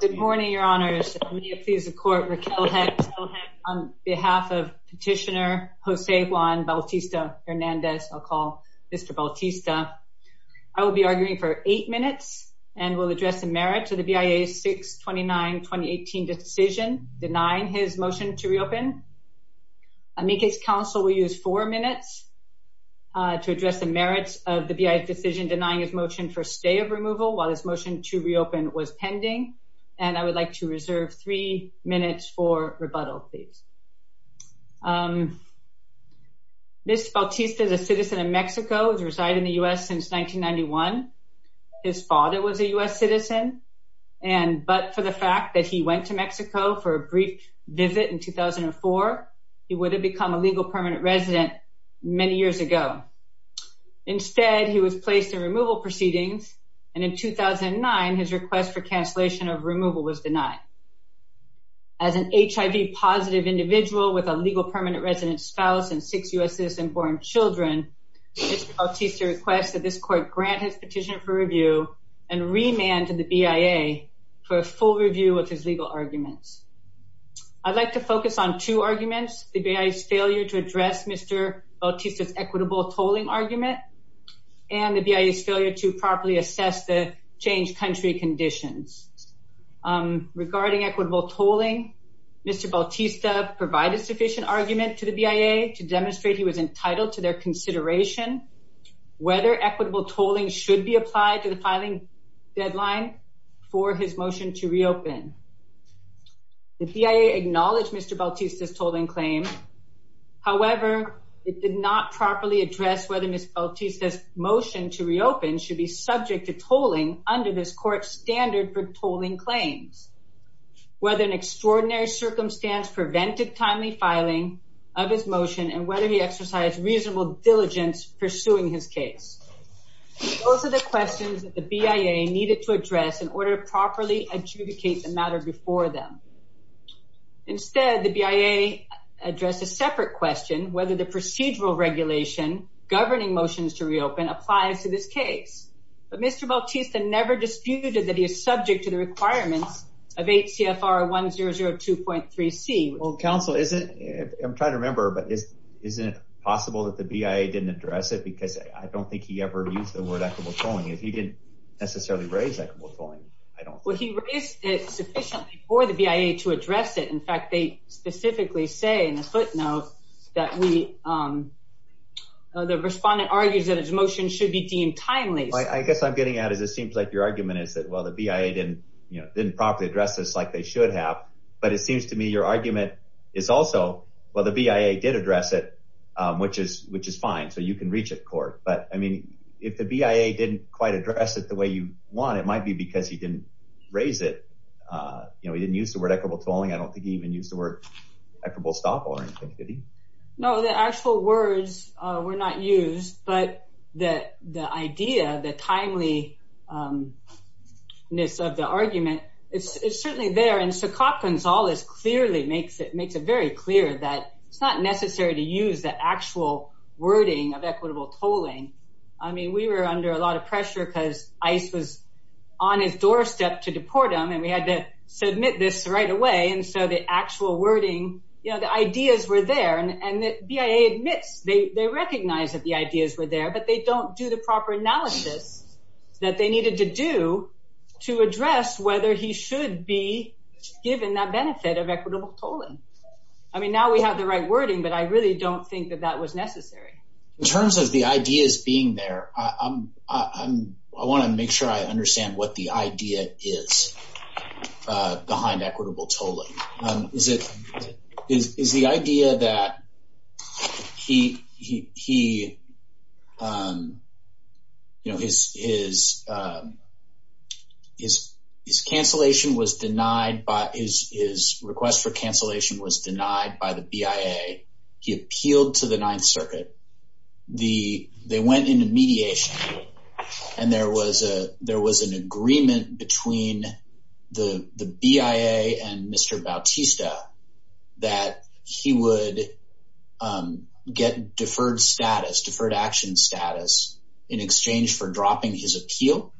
Good morning, Your Honors. We accuse the Court, Raquel Hess, on behalf of Petitioner José Juan Bautista Hernández, I'll call Mr. Bautista. I will be arguing for 8 minutes and will address the merits of the BIA's 6-29-2018 decision denying his motion to reopen. I make it counsel we use 4 minutes to address the merits of the BIA's decision denying his motion for stay of removal while his motion to reopen was pending, and I would like to reserve 3 minutes for rebuttal, please. Mr. Bautista is a citizen of Mexico. He's resided in the U.S. since 1991. His father was a U.S. citizen, but for the fact that he went to Mexico for a brief visit in 2004, he would have become a legal permanent resident many years ago. Instead, he was placed in removal proceedings, and in 2009, his request for cancellation of removal was denied. As an HIV-positive individual with a legal permanent resident spouse and 6 U.S. citizen-born children, Mr. Bautista requests that this Court grant his petition for review and remand to the BIA for a full review of his legal arguments. I'd like to focus on two arguments, the BIA's failure to address Mr. Bautista's equitable tolling argument and the BIA's failure to properly assess the changed country conditions. Regarding equitable tolling, Mr. Bautista provided sufficient argument to the BIA to demonstrate he was entitled to their consideration, whether equitable tolling should be applied to the filing deadline for his motion to reopen. The BIA acknowledged Mr. Bautista's tolling claim. However, it did not properly address whether Mr. Bautista's motion to reopen should be subject to tolling under this Court's standard for tolling claims, whether an extraordinary circumstance prevented timely filing of his motion, and whether he exercised reasonable diligence pursuing his case. Those are the questions that the BIA needed to address in order to properly adjudicate the matter before them. Instead, the BIA addressed a separate question, whether the procedural regulation governing motions to reopen applied to this case. But Mr. Bautista never disputed that he is subject to the requirements of H.C.S.R. 1002.3c. Well, counsel, I'm trying to remember, but isn't it possible that the BIA didn't address it? Because I don't think he ever used the word equitable tolling. If he didn't necessarily raise equitable tolling, I don't know. Well, he raised it sufficiently for the BIA to address it. In fact, they specifically say in a footnote that the respondent argues that his motion should be deemed timely. I guess I'm getting at it. It seems like your argument is that, well, the BIA didn't properly address this like they should have. But it seems to me your argument is also, well, the BIA did address it, which is fine. So you can reach a court. But, I mean, if the BIA didn't quite address it the way you want, it might be because he didn't raise it. You know, he didn't use the word equitable tolling. I don't think he even used the word equitable stop-all or anything, did he? No, the actual words were not used. But the idea, the timeliness of the argument, it's certainly there. And Sokok Gonzalez clearly makes it very clear that it's not necessary to use the actual wording of equitable tolling. I mean, we were under a lot of pressure because ICE was on its doorstep to deport him, and we had to submit this right away. And so the actual wording, you know, the ideas were there. And the BIA admits, they recognize that the ideas were there, but they don't do the proper analysis that they needed to do to address whether he should be given that benefit of equitable tolling. I mean, now we have the right wording, but I really don't think that that was necessary. In terms of the ideas being there, I want to make sure I understand what the idea is behind equitable tolling. Is the idea that he, you know, his cancellation was denied, his request for cancellation was denied by the BIA. He appealed to the Ninth Circuit. They went into mediation. And there was an agreement between the BIA and Mr. Bautista that he would get deferred status, deferred action status, in exchange for dropping his appeal.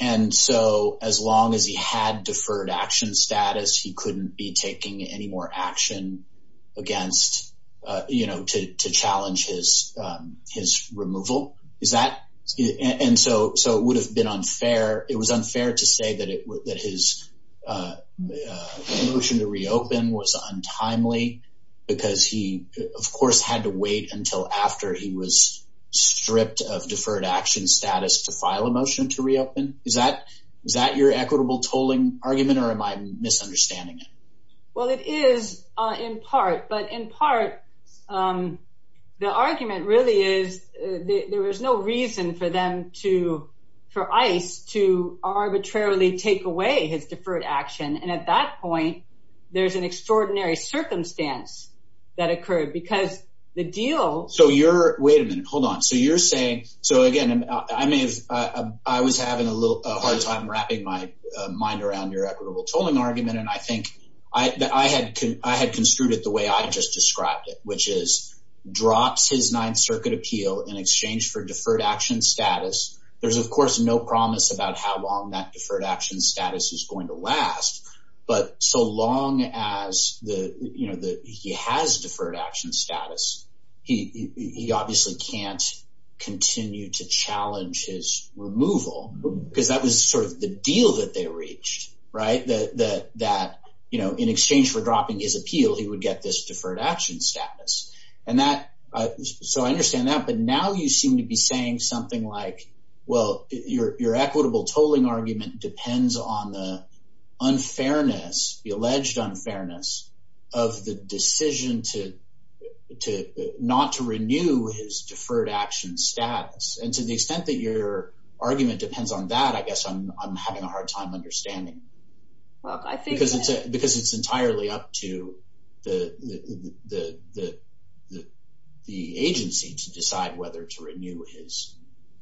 And so as long as he had deferred action status, he couldn't be taking any more action against, you know, to challenge his removal. Is that? And so it would have been unfair, it was unfair to say that his motion to reopen was untimely because he, of course, had to wait until after he was stripped of deferred action status to file a motion to reopen. Is that your equitable tolling argument, or am I misunderstanding it? Well, it is in part. But in part, the argument really is there was no reason for them to, for ICE to arbitrarily take away his deferred action. And at that point, there's an extraordinary circumstance that occurred because the deal. So you're, wait a minute, hold on. So you're saying, so again, I mean, I was having a little hard time wrapping my mind around your equitable tolling argument, and I think that I had construed it the way I just described it, which is drops his Ninth Circuit appeal in exchange for deferred action There's, of course, no promise about how long that deferred action status is going to last. But so long as the, you know, he has deferred action status, he obviously can't continue to challenge his removal. Because that was sort of the deal that they reached, right? That, you know, in exchange for dropping his appeal, he would get this deferred action status. And that, so I understand that. But now you seem to be saying something like, well, your equitable tolling argument depends on the unfairness, the alleged unfairness of the decision to not to renew his deferred action status. And to the extent that your argument depends on that, I guess I'm having a hard time understanding. Because it's entirely up to the agency to decide whether to renew his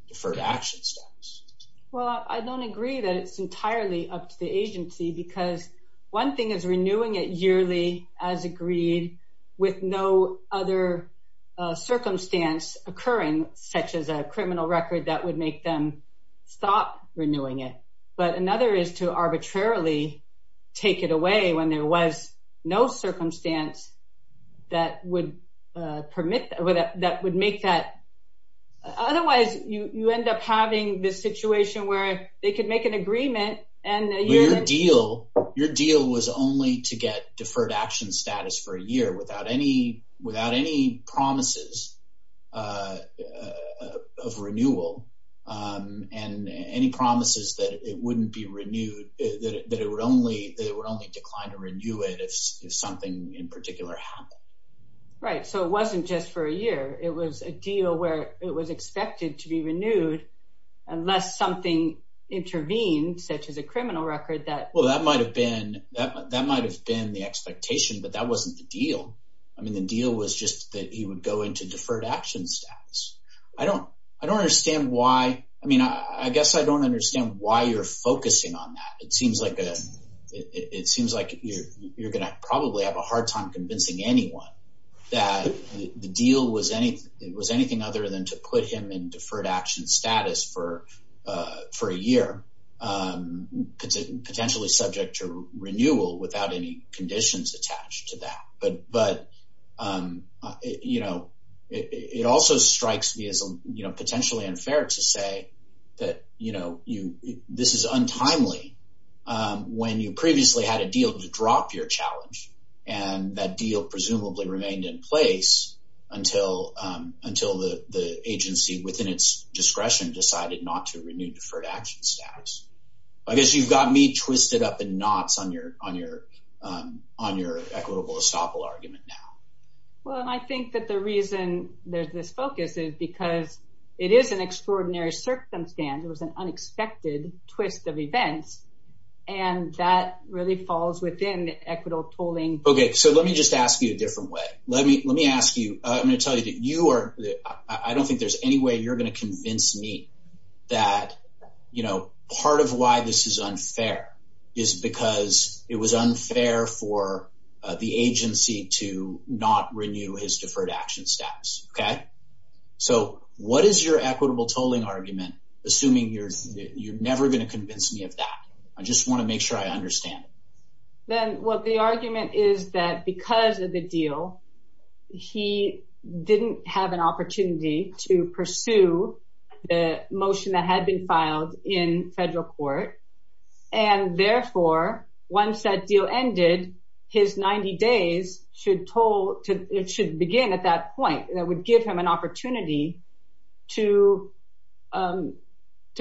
deferred action status. Well, I don't agree that it's entirely up to the agency, because one thing is renewing it yearly as agreed with no other circumstance occurring, such as a criminal record that would make them stop renewing it. But another is to arbitrarily take it away when there was no circumstance that would permit, that would make that. Otherwise, you end up having this situation where they could make an agreement. Your deal was only to get deferred action status for a year without any promises of renewal and any promises that it wouldn't be renewed, that it would only decline to renew it if something in particular happened. Right. So it wasn't just for a year. It was a deal where it was expected to be renewed unless something intervened, such as a criminal record. Well, that might have been the expectation, but that wasn't the deal. I mean, the deal was just that he would go into deferred action status. I don't understand why. I mean, I guess I don't understand why you're focusing on that. It seems like you're going to probably have a hard time convincing anyone that the deal was anything other than to put him in deferred action status for a year, potentially subject to renewal without any conditions attached to that. But, you know, it also strikes me as potentially unfair to say that, you know, this is untimely when you previously had a deal to drop your challenge and that deal presumably remained in place until the agency within its discretion decided not to renew deferred action status. I guess you've got me twisted up in knots on your equitable estoppel argument now. Well, and I think that the reason there's this focus is because it is an extraordinary circumstance. It was an unexpected twist of events. And that really falls within equitable tolling. Okay. So let me just ask you a different way. Let me ask you, I'm going to tell you that you are, I don't think there's any way you're going to convince me that, you know, part of why this is unfair is because it was unfair for the agency to not renew his deferred action status. Okay? So what is your equitable tolling argument, assuming you're never going to convince me of that? I just want to make sure I understand. Well, the argument is that because of the deal, he didn't have an opportunity to pursue the motion that had been filed in federal court. And therefore, once that deal ended, his 90 days should begin at that point. And that would give him an opportunity to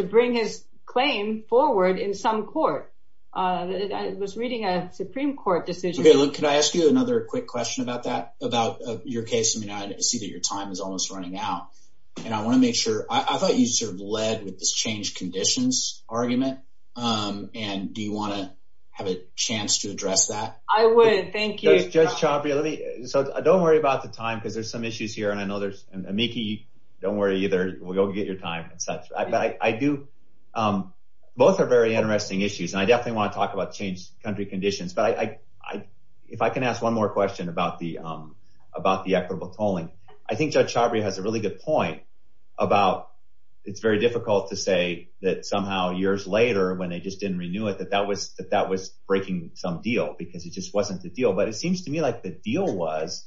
bring his claim forward in some court. I was reading a Supreme Court decision. Okay, look, can I ask you another quick question about that, about your case? I mean, I see that your time is almost running out. And I want to make sure, I thought you sort of led with this change conditions argument. And do you want to have a chance to address that? I would. Thank you. Judge Chabria, so don't worry about the time, because there's some issues here. And I know there's, and Miki, don't worry either. We'll go get your time and such. I do, both are very interesting issues. And I definitely want to talk about change country conditions. But if I can ask one more question about the equitable tolling. I think Judge Chabria has a really good point about it's very difficult to say that somehow years later when they just didn't renew it, that that was breaking some deal. Because it just wasn't the deal. But it seems to me like the deal was,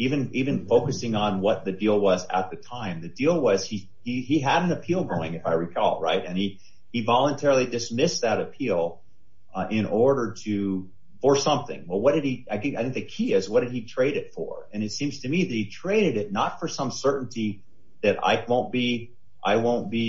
even focusing on what the deal was at the time, the deal was he had an appeal going, if I recall, right? And he voluntarily dismissed that appeal in order to, for something. Well, what did he, I think the key is, what did he trade it for? And it seems to me that he traded it not for some certainty that I won't be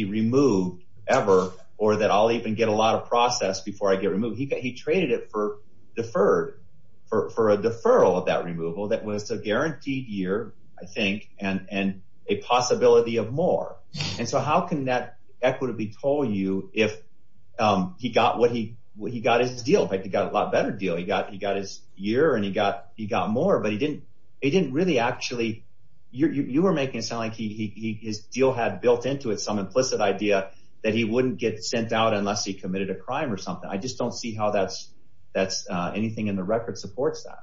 removed ever, or that I'll even get a lot of process before I get removed. He traded it for deferred, for a deferral of that removal that was a guaranteed year, I think, and a possibility of more. And so how can that equitably toll you if he got what he, he got his deal. He got a lot better deal. He got his year and he got more, but he didn't really actually, you were making it sound like his deal had built into it some implicit idea that he wouldn't get sent out unless he committed a crime or something. I just don't see how that's anything in the record supports that.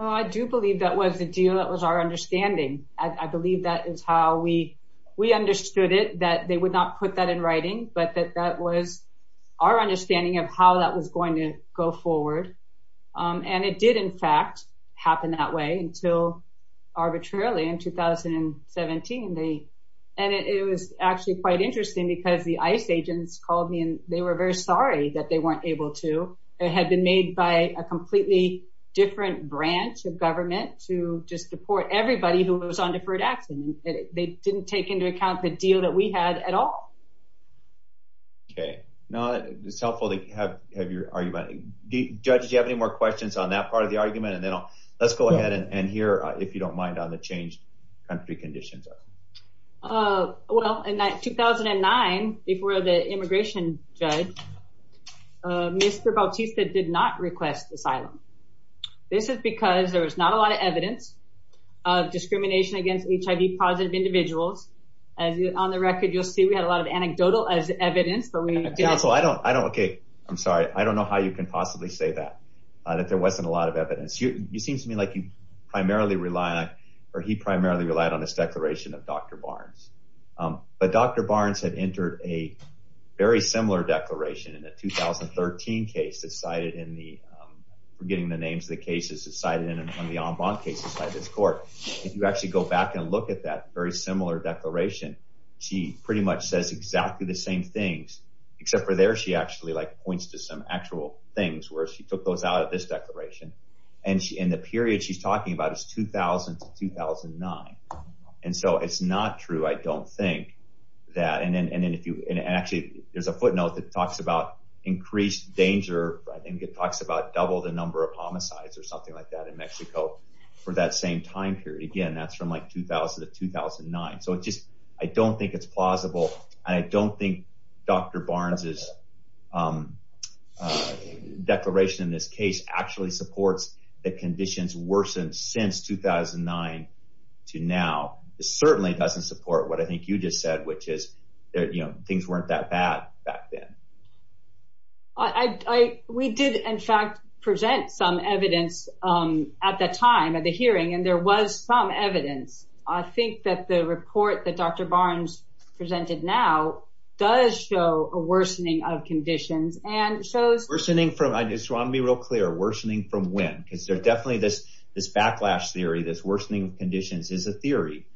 Oh, I do believe that was the deal. That was our understanding. I believe that is how we understood it, that they would not put that in writing, but that that was our understanding of how that was going to go forward. And it did, in fact, happen that way until arbitrarily in 2017. And it was actually quite interesting because the ICE agents called me and they were very sorry that they weren't able to. It had been made by a completely different branch of government to just support everybody who was on deferred action. They didn't take into account the deal that we had at all. Okay. Now it's helpful to have your argument. Judge, do you have any more questions on that part of the argument? And then let's go ahead and hear if you don't mind on the changed country conditions. Well, in 2009, before the immigration judge, Mr. Bautista did not request asylum. This is because there was not a lot of evidence of discrimination against HIV-positive individuals. On the record, you'll see we had a lot of anecdotal evidence. Okay, I'm sorry. I don't know how you can possibly say that, that there wasn't a lot of evidence. It seems to me like he primarily relied on this declaration of Dr. Barnes. But Dr. Barnes had entered a very similar declaration in the 2013 case that's cited in the – I'm forgetting the names of the cases that's cited in the en banc cases by the court. If you actually go back and look at that very similar declaration, she pretty much says exactly the same things, except for there she actually, like, and the period she's talking about is 2000 to 2009. And so it's not true, I don't think, that – and then if you – and actually there's a footnote that talks about increased danger. I think it talks about double the number of homicides or something like that in Mexico for that same time period. Again, that's from, like, 2000 to 2009. So it just – I don't think it's plausible. I don't think Dr. Barnes' declaration in this case actually supports that conditions worsened since 2009 to now. It certainly doesn't support what I think you just said, which is things weren't that bad back then. We did, in fact, present some evidence at the time of the hearing, and there was some evidence. And I think that the report that Dr. Barnes presented now does show a worsening of conditions and shows – Worsening from – I just want to be real clear. Worsening from when? Because there's definitely this backlash theory that worsening conditions is a theory,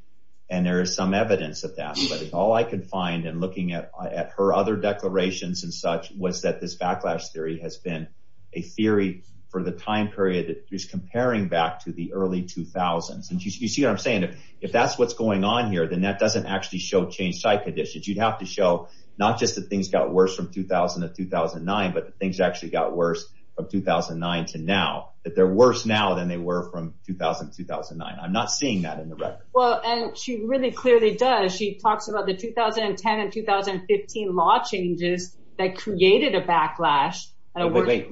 and there is some evidence of that. But all I could find in looking at her other declarations and such was that this backlash theory has been a theory for the time period that she's comparing back to the early 2000s. You see what I'm saying? If that's what's going on here, then that doesn't actually show changed site conditions. You'd have to show not just that things got worse from 2000 to 2009, but that things actually got worse from 2009 to now, that they're worse now than they were from 2000 to 2009. I'm not seeing that in the record. Well, and she really clearly does. She talks about the 2010 and 2015 law changes that created a backlash.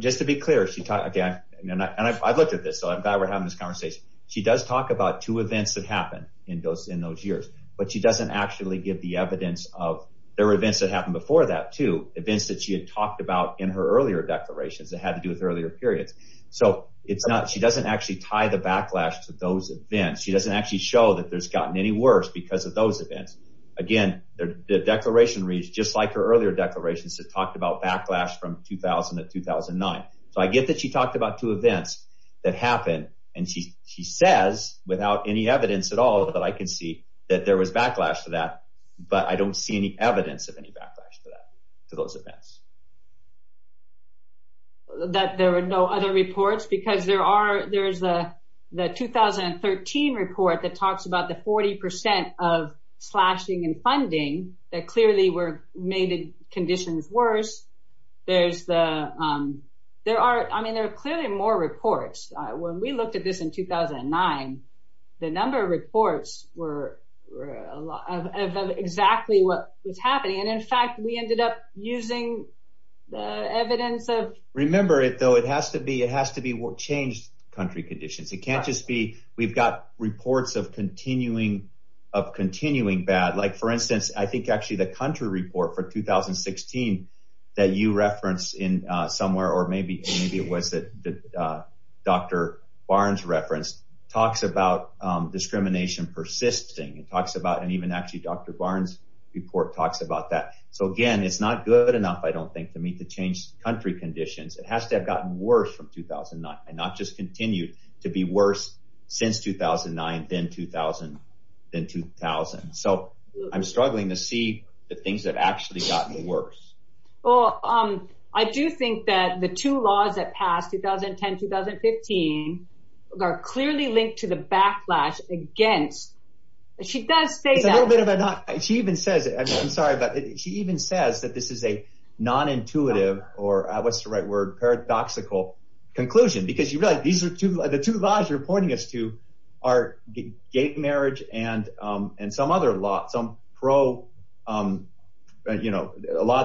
Just to be clear, she – again, and I've looked at this. I'm glad we're having this conversation. She does talk about two events that happened in those years, but she doesn't actually give the evidence of – there were events that happened before that too, events that she had talked about in her earlier declarations that had to do with earlier periods. So she doesn't actually tie the backlash to those events. She doesn't actually show that there's gotten any worse because of those events. Again, the declaration reads just like her earlier declarations that talked about backlash from 2000 to 2009. So I get that she talked about two events that happened, and she says, without any evidence at all that I can see that there was backlash to that, but I don't see any evidence of any backlash to those events. That there were no other reports? Because there's the 2013 report that talks about the 40% of slashing in funding that clearly made conditions worse. There are clearly more reports. When we looked at this in 2009, the number of reports were exactly what was happening, and, in fact, we ended up using evidence of – Remember, though, it has to be changed country conditions. It can't just be we've got reports of continuing bad. Like, for instance, I think actually the country report for 2016 that you referenced somewhere, or maybe it was Dr. Barnes' reference, talks about discrimination persisting. It talks about – and even actually Dr. Barnes' report talks about that. So, again, it's not good enough, I don't think, for me to change country conditions. It has to have gotten worse from 2009 and not just continued to be worse since 2009 than 2000. So I'm struggling to see the things that have actually gotten worse. Well, I do think that the two laws that passed, 2010-2015, are clearly linked to the backlash against – she does say that. She even says it. I'm sorry, but she even says that this is a non-intuitive or, what's the right word, paradoxical conclusion. Because you realize the two laws you're pointing us to are gay marriage and some other – a lot of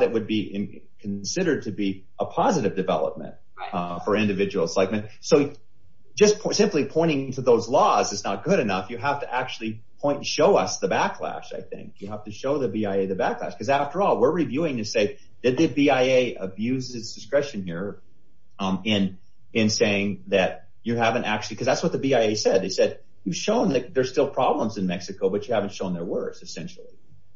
it would be considered to be a positive development for individuals. So just simply pointing to those laws is not good enough. You have to actually point and show us the backlash, I think. You have to show the BIA the backlash. Because, after all, we're reviewing and say, did the BIA abuse its discretion here in saying that you haven't actually – because that's what the BIA said. They said, you've shown that there's still problems in Mexico, but you haven't shown they're worse, essentially.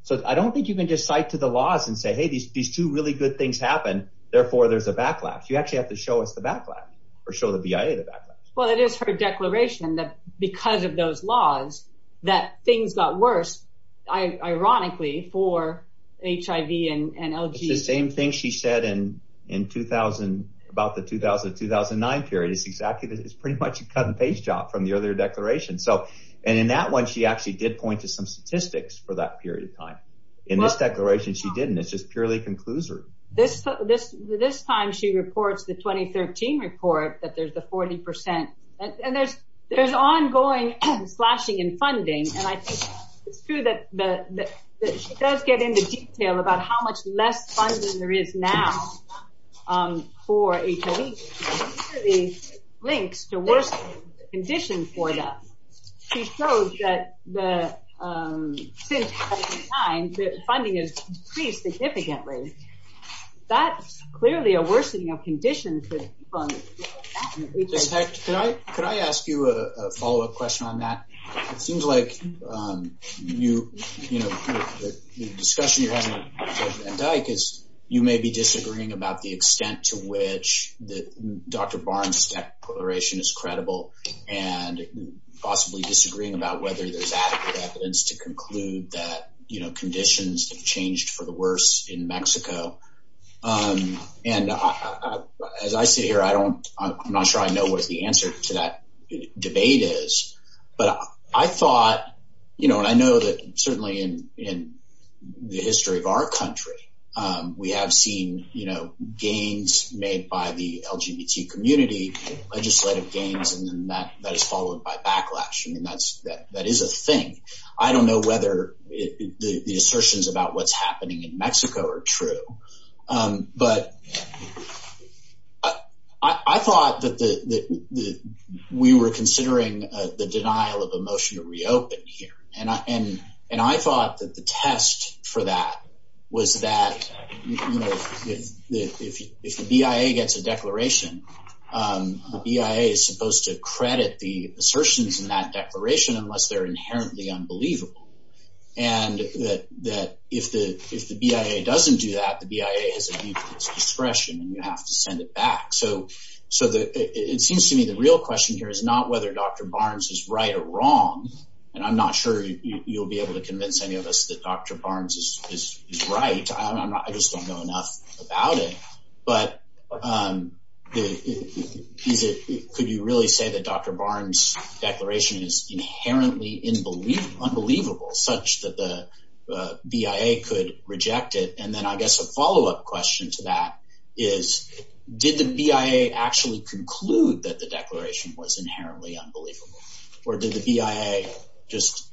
So I don't think you can just cite to the laws and say, hey, these two really good things happened, therefore there's a backlash. You actually have to show us the backlash or show the BIA the backlash. Well, it is her declaration that because of those laws that things got worse, ironically, for HIV and LG. It's the same thing she said in about the 2000-2009 period. It's pretty much a cut-and-paste job from the other declaration. And in that one she actually did point to some statistics for that period of time. In this declaration she didn't. It just purely concludes her. This time she reports the 2013 report that there's a 40%. And there's ongoing slashing in funding. And I think it's true that she does get into detail about how much less funding there is now for HIV. These are the links to worse conditions for them. She showed that since that time the funding has decreased significantly. That's clearly a worsening of conditions for HIV. Can I ask you a follow-up question on that? It seems like the discussion you're having with President Indyk is you may be disagreeing about the extent to which Dr. Barnes' declaration is credible and possibly disagreeing about whether there's adequate evidence to conclude that conditions have changed for the worse in Mexico. And as I sit here I'm not sure I know what the answer to that debate is. But I thought, you know, I know that certainly in the history of our country we have seen, you know, gains made by the LGBT community, legislative gains, and that is followed by backlash. And that is a thing. I don't know whether the assertions about what's happening in Mexico are true. But I thought that we were considering the denial of a motion to reopen here. And I thought that the test for that was that, you know, if the BIA gets a declaration, the BIA is supposed to credit the assertions in that declaration unless they're inherently unbelievable. And that if the BIA doesn't do that, the BIA is at its discretion and you have to send it back. So it seems to me the real question here is not whether Dr. Barnes is right or wrong. And I'm not sure you'll be able to convince any of us that Dr. Barnes is right. I just don't know enough about it. But could you really say that Dr. Barnes' declaration is inherently unbelievable such that the BIA could reject it? And then I guess a follow-up question to that is, did the BIA actually conclude that the declaration was inherently unbelievable? Or did the BIA just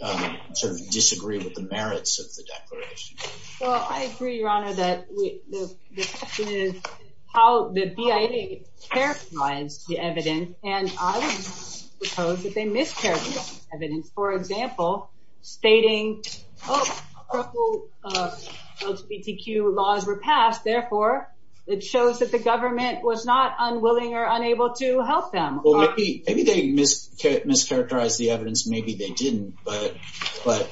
sort of disagree with the merits of the declaration? Well, I agree, Your Honor, that the question is how the BIA characterized the evidence. And I would suppose that they mischaracterized the evidence. For example, stating, oh, those PTQ laws were passed. Therefore, it shows that the government was not unwilling or unable to help them. Maybe they mischaracterized the evidence. Maybe they didn't. But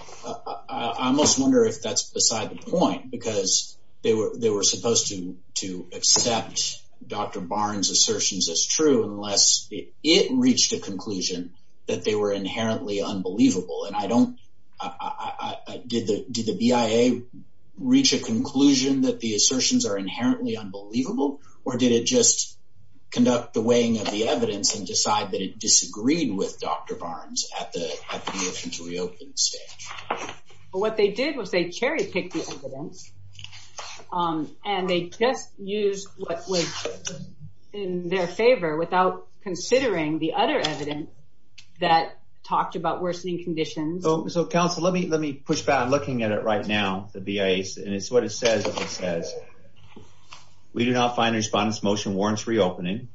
I almost wonder if that's beside the point because they were supposed to accept Dr. Barnes' assertions as true unless it reached a conclusion that they were inherently unbelievable. And I don't – did the BIA reach a conclusion that the assertions are inherently unbelievable? Or did it just conduct the weighing of the evidence and decide that it disagreed with Dr. Barnes at the reopened stage? What they did was they cherry-picked the evidence and they just used what was in their favor without considering the other evidence that talked about worsening conditions. So, counsel, let me push back. I'm looking at it right now, the BIA. And it's what it says. It says, we do not find the respondent's motion warrants reopening.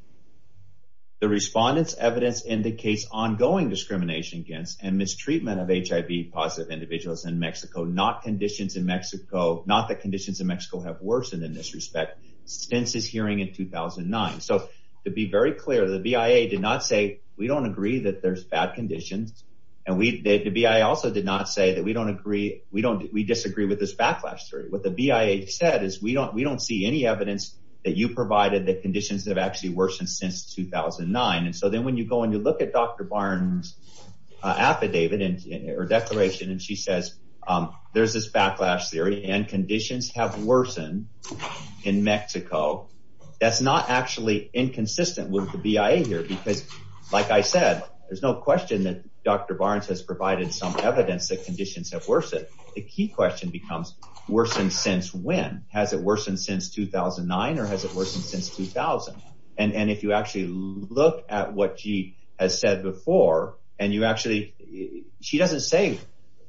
The respondent's evidence indicates ongoing discrimination against and individuals in Mexico, not conditions in Mexico – not that conditions in Mexico have worsened in this respect since his hearing in 2009. So, to be very clear, the BIA did not say we don't agree that there's bad conditions. And the BIA also did not say that we don't agree – we disagree with this backlash story. What the BIA said is we don't see any evidence that you provided that conditions have actually worsened since 2009. And so then when you go and you look at Dr. Barnes' affidavit or declaration and she says there's this backlash theory and conditions have worsened in Mexico, that's not actually inconsistent with the BIA here. Because, like I said, there's no question that Dr. Barnes has provided some evidence that conditions have worsened. The key question becomes worsened since when? Has it worsened since 2009 or has it worsened since 2000? And if you actually look at what she has said before and you actually – she doesn't say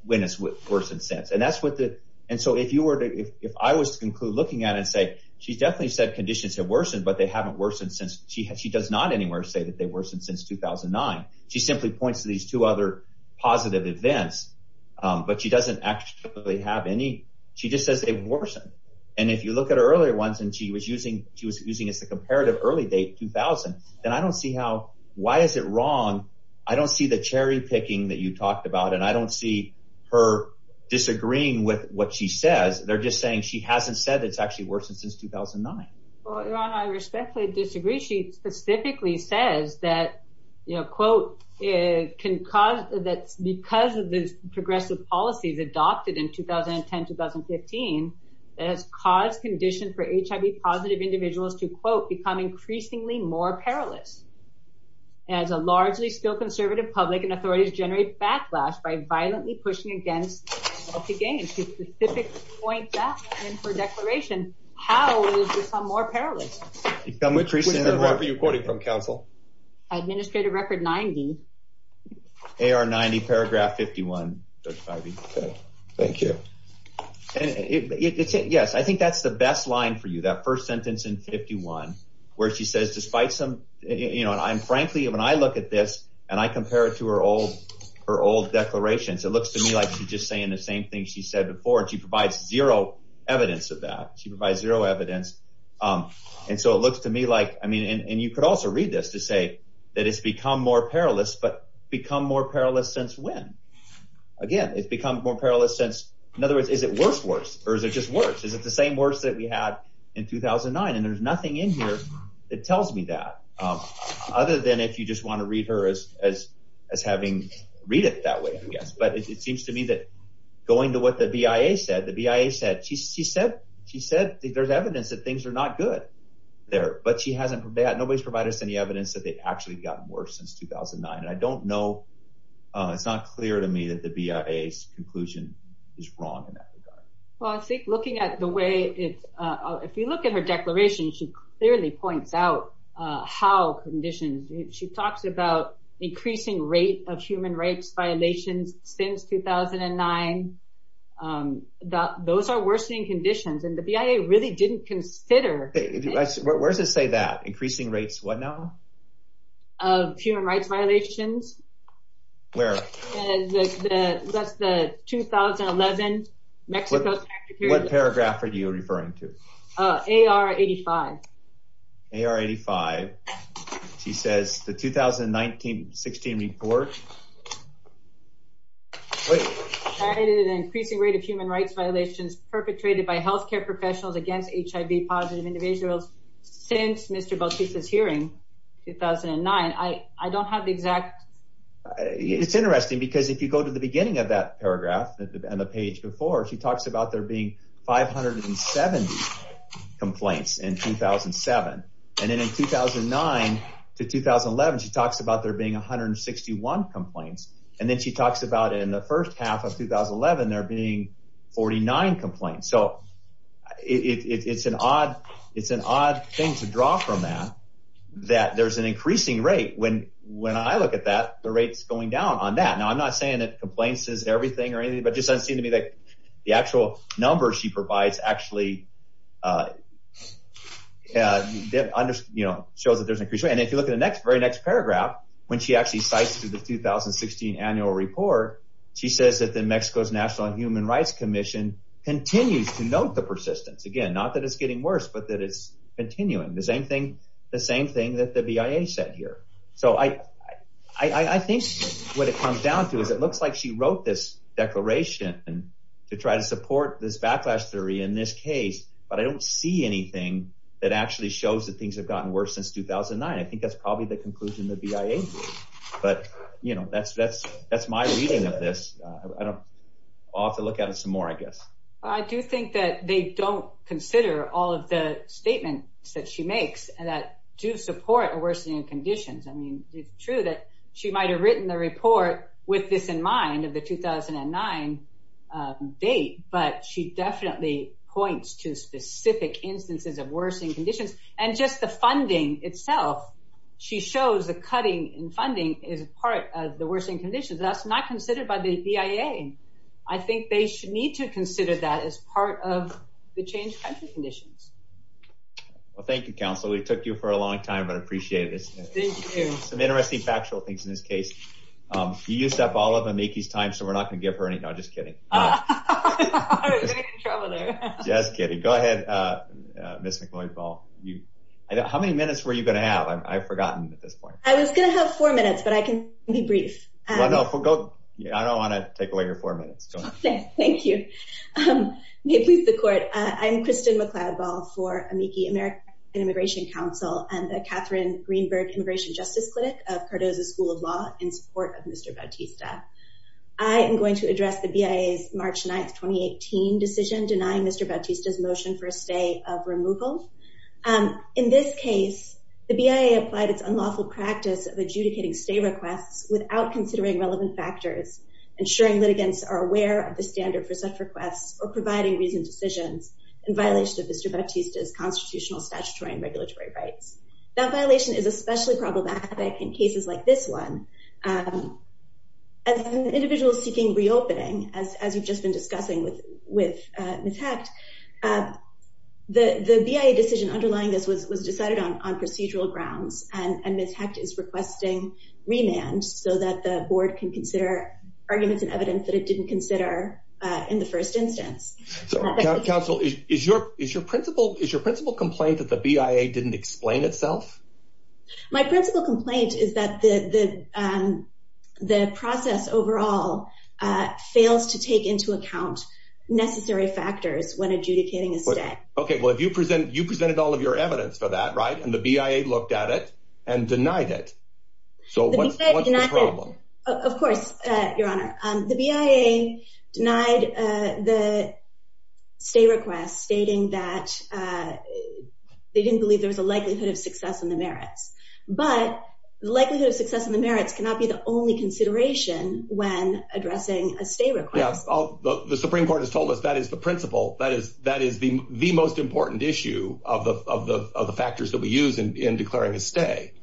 when it's worsened since. And that's what the – and so if you were to – if I was to conclude looking at it and say she definitely said conditions have worsened, but they haven't worsened since – she does not anywhere say that they've worsened since 2009. She simply points to these two other positive events, but she doesn't actually have any. She just says they've worsened. And if you look at her earlier ones and she was using – she was using it as a comparative early date, 2000, then I don't see how – why is it wrong? I don't see the cherry picking that you talked about and I don't see her disagreeing with what she says. They're just saying she hasn't said it's actually worsened since 2009. Well, Ron, I respectfully disagree. She specifically says that, you know, quote, it can cause – that because of the progressive policies adopted in 2010, 2015, it has caused conditions for HIV-positive individuals to, quote, become increasingly more perilous as a still conservative public and authorities generate backlash by violently pushing against the gains. She specifically points that in her declaration. How will it become more perilous? Administrative record 90. AR 90, paragraph 51. Thank you. Yes, I think that's the best line for you, that first sentence in 51 where she says despite some – you know, and frankly, when I look at this and I compare it to her old declarations, it looks to me like she's just saying the same thing she said before. She provides zero evidence of that. She provides zero evidence and so it looks to me like – I mean, and you could also read this to say that it's become more perilous but become more perilous since when? Again, it's become more perilous since – in other words, is it worse, worse, or is it just worse? Is it the same worse that we had in 2009? And there's nothing in here that tells me that other than if you just want to read her as having read it that way, I guess. But it seems to me that going to what the BIA said, the BIA said she said there's evidence that things are not good there. But she hasn't – nobody's provided us any evidence that they've actually gotten worse since 2009. And I don't know – it's not clear to me that the BIA's conclusion is wrong in that regard. Well, I think looking at the way – if you look at her declaration, she clearly points out how conditions – she talks about increasing rate of human rights violations since 2009. Those are worsening conditions. And the BIA really didn't consider – Where does it say that? Increasing rates what now? Of human rights violations. Where? That's the 2011 Mexico – What paragraph are you referring to? AR-85. AR-85. She says the 2016 report. Added an increasing rate of human rights violations perpetrated by healthcare professionals against HIV-positive individuals since Mr. Bautista's hearing 2009. I don't have the exact – It's interesting because if you go to the beginning of that paragraph – this is Emma Page before – she talks about there being 570 complaints in 2007. And then in 2009 to 2011, she talks about there being 161 complaints. And then she talks about in the first half of 2011 there being 49 complaints. So it's an odd thing to draw from that, that there's an increasing rate. When I look at that, the rate's going down on that. Now, I'm not saying that complaints is everything or anything, but it just doesn't seem to me that the actual numbers she provides actually show that there's an increasing rate. And if you look at the very next paragraph, when she actually cites the 2016 annual report, she says that Mexico's National Human Rights Commission continues to note the persistence. Again, not that it's getting worse, but that it's continuing. The same thing that the BIA said here. So I think what it comes down to is it looks like she wrote this declaration to try to support this backlash theory in this case, but I don't see anything that actually shows that things have gotten worse since 2009. I think that's probably the conclusion the BIA drew. But, you know, that's my reading of this. I'll have to look at it some more, I guess. I do think that they don't consider all of the statements that she makes that do support worsening conditions. I mean, it's true that she might've written the report with this in mind of the 2009 date, but she definitely points to specific instances of worsening conditions and just the funding itself. She shows the cutting in funding is part of the worsening conditions. That's not considered by the BIA. I think they should need to consider that as part of the change in conditions. Well, thank you, council. We took you for a long time, but I appreciate it. Some interesting factual things in this case. You used up all of the time. So we're not going to give her anything. I'm just kidding. Yes. Go ahead. How many minutes were you going to have? I've forgotten. I was going to have four minutes, but I can be brief. I don't want to take away your four minutes. Thank you. I'm Kristen McLeod ball for Amici American immigration council and the Catherine Greenberg immigration justice clinic, a part of the school of law in support of Mr. I am going to address the BIA March 9th, 2018 decision, denying Mr. Motion for a stay of removal. In this case, The BIA applied it's unlawful practice of adjudicating stay requests without considering relevant factors, ensuring that against are aware of the standard for such requests or providing reasons, decisions, and violations of the judicial constitutional statutory and regulatory rights. That violation is especially problematic in cases like this one. As an individual seeking reopening, as, as you've just been discussing with, with Ms. And Ms. Hecht is requesting remand so that the board can consider arguments and evidence that it didn't consider in the first instance. Counsel is your, is your principal, is your principal complaint that the BIA didn't explain itself. My principal complaint is that the, the, the process overall. Fails to take into account necessary factors when adjudicating. Okay. Well, if you present, you presented all of your evidence for that. Right. And the BIA looked at it and denied it. So what's the problem? Of course, your honor, the BIA denied the. Stay requests stating that they didn't believe there was a likelihood of success in the merits, but the likelihood of success in the merits cannot be the only consideration when addressing a stay. The Supreme court has told us that is the principle that is, that is the most important issue of the, of the factors that we use in declaring a stay.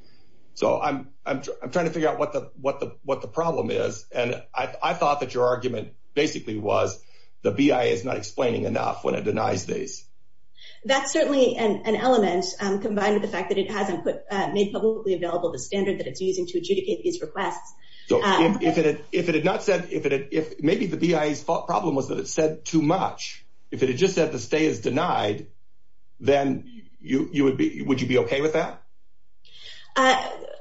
So I'm, I'm trying to figure out what the, what the, what the problem is. And I thought that your argument basically was the BIA is not explaining enough when it denies. That's certainly an element combined with the fact that it hasn't put made publicly available the standards that it's using to adjudicate these requests. If it had not said, if it had, if maybe the BIA problem was that it said too much. If it is just that the stay is denied, then you, you would be, would you be okay with that?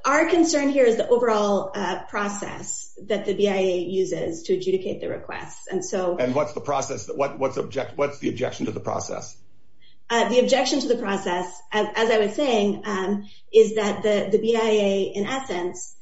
Our concern here is the overall process that the BIA uses to adjudicate the request. And so, and what's the process, what's the object, what's the objection to the process? The objection to the process, as I was saying, is that the BIA in essence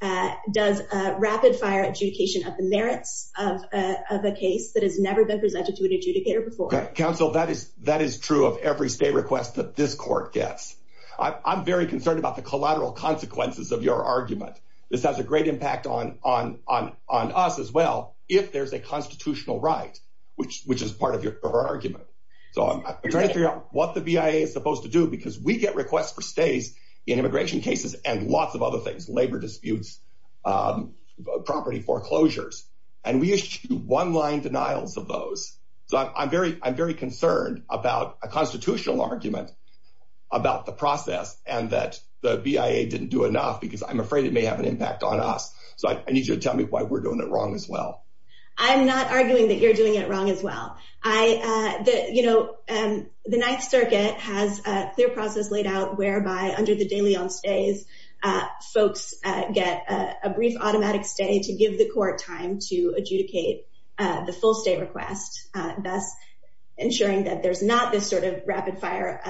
does a rapid fire adjudication of the merits of a case that has never been presented to an adjudicator before. Counsel, that is, that is true of every state request that this court gets. I'm very concerned about the collateral consequences of your argument. This has a great impact on, on, on, on us as well. If there's a constitutional right, which, which is part of your argument. So I'm trying to figure out what the BIA is supposed to do because we get requests for stays in immigration cases and lots of other things, labor disputes, property foreclosures, and we issued one line denial for those. So I'm very, I'm very concerned about a constitutional argument about the process and that the BIA didn't do enough because I'm afraid it may have an impact on us. So I need you to tell me why we're doing it wrong as well. I'm not arguing that you're doing it wrong as well. I, the, you know, the ninth circuit has their process laid out whereby under the daily on stays folks get a brief automatic stay to give the court time to adjudicate the full stay request, ensuring that there's not this sort of rapid fire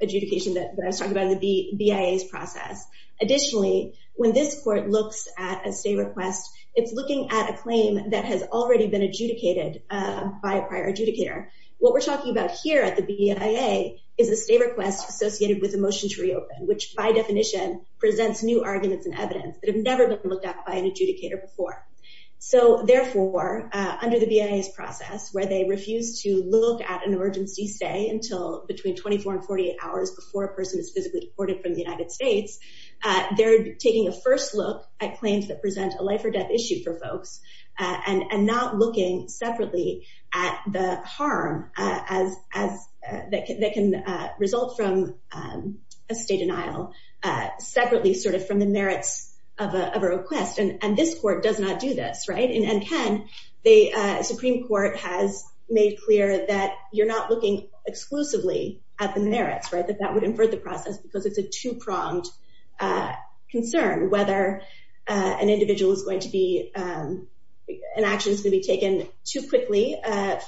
adjudication that I was talking about would be BIA's process. Additionally, when this court looks at a stay request, it's looking at a claim that has already been adjudicated by a prior adjudicator. What we're talking about here at the BIA is a stay request associated with the motion to reopen, which by definition presents new arguments and evidence that have never been looked at by an adjudicator before. So therefore, under the BIA process where they refuse to look at an urgency stay until between 24 and 48 hours before a person is physically deported from the United States, they're taking a first look at claims that present a life or death issue for folks and not looking separately at the harm that can result from a stay denial, separately sort of from the merits of a request. And this court does not do this, right? In M10, the Supreme Court has made clear that you're not looking exclusively at the merits, right? That that would infer the process. So it's a two-pronged concern whether an individual is going to be, an action is going to be taken too quickly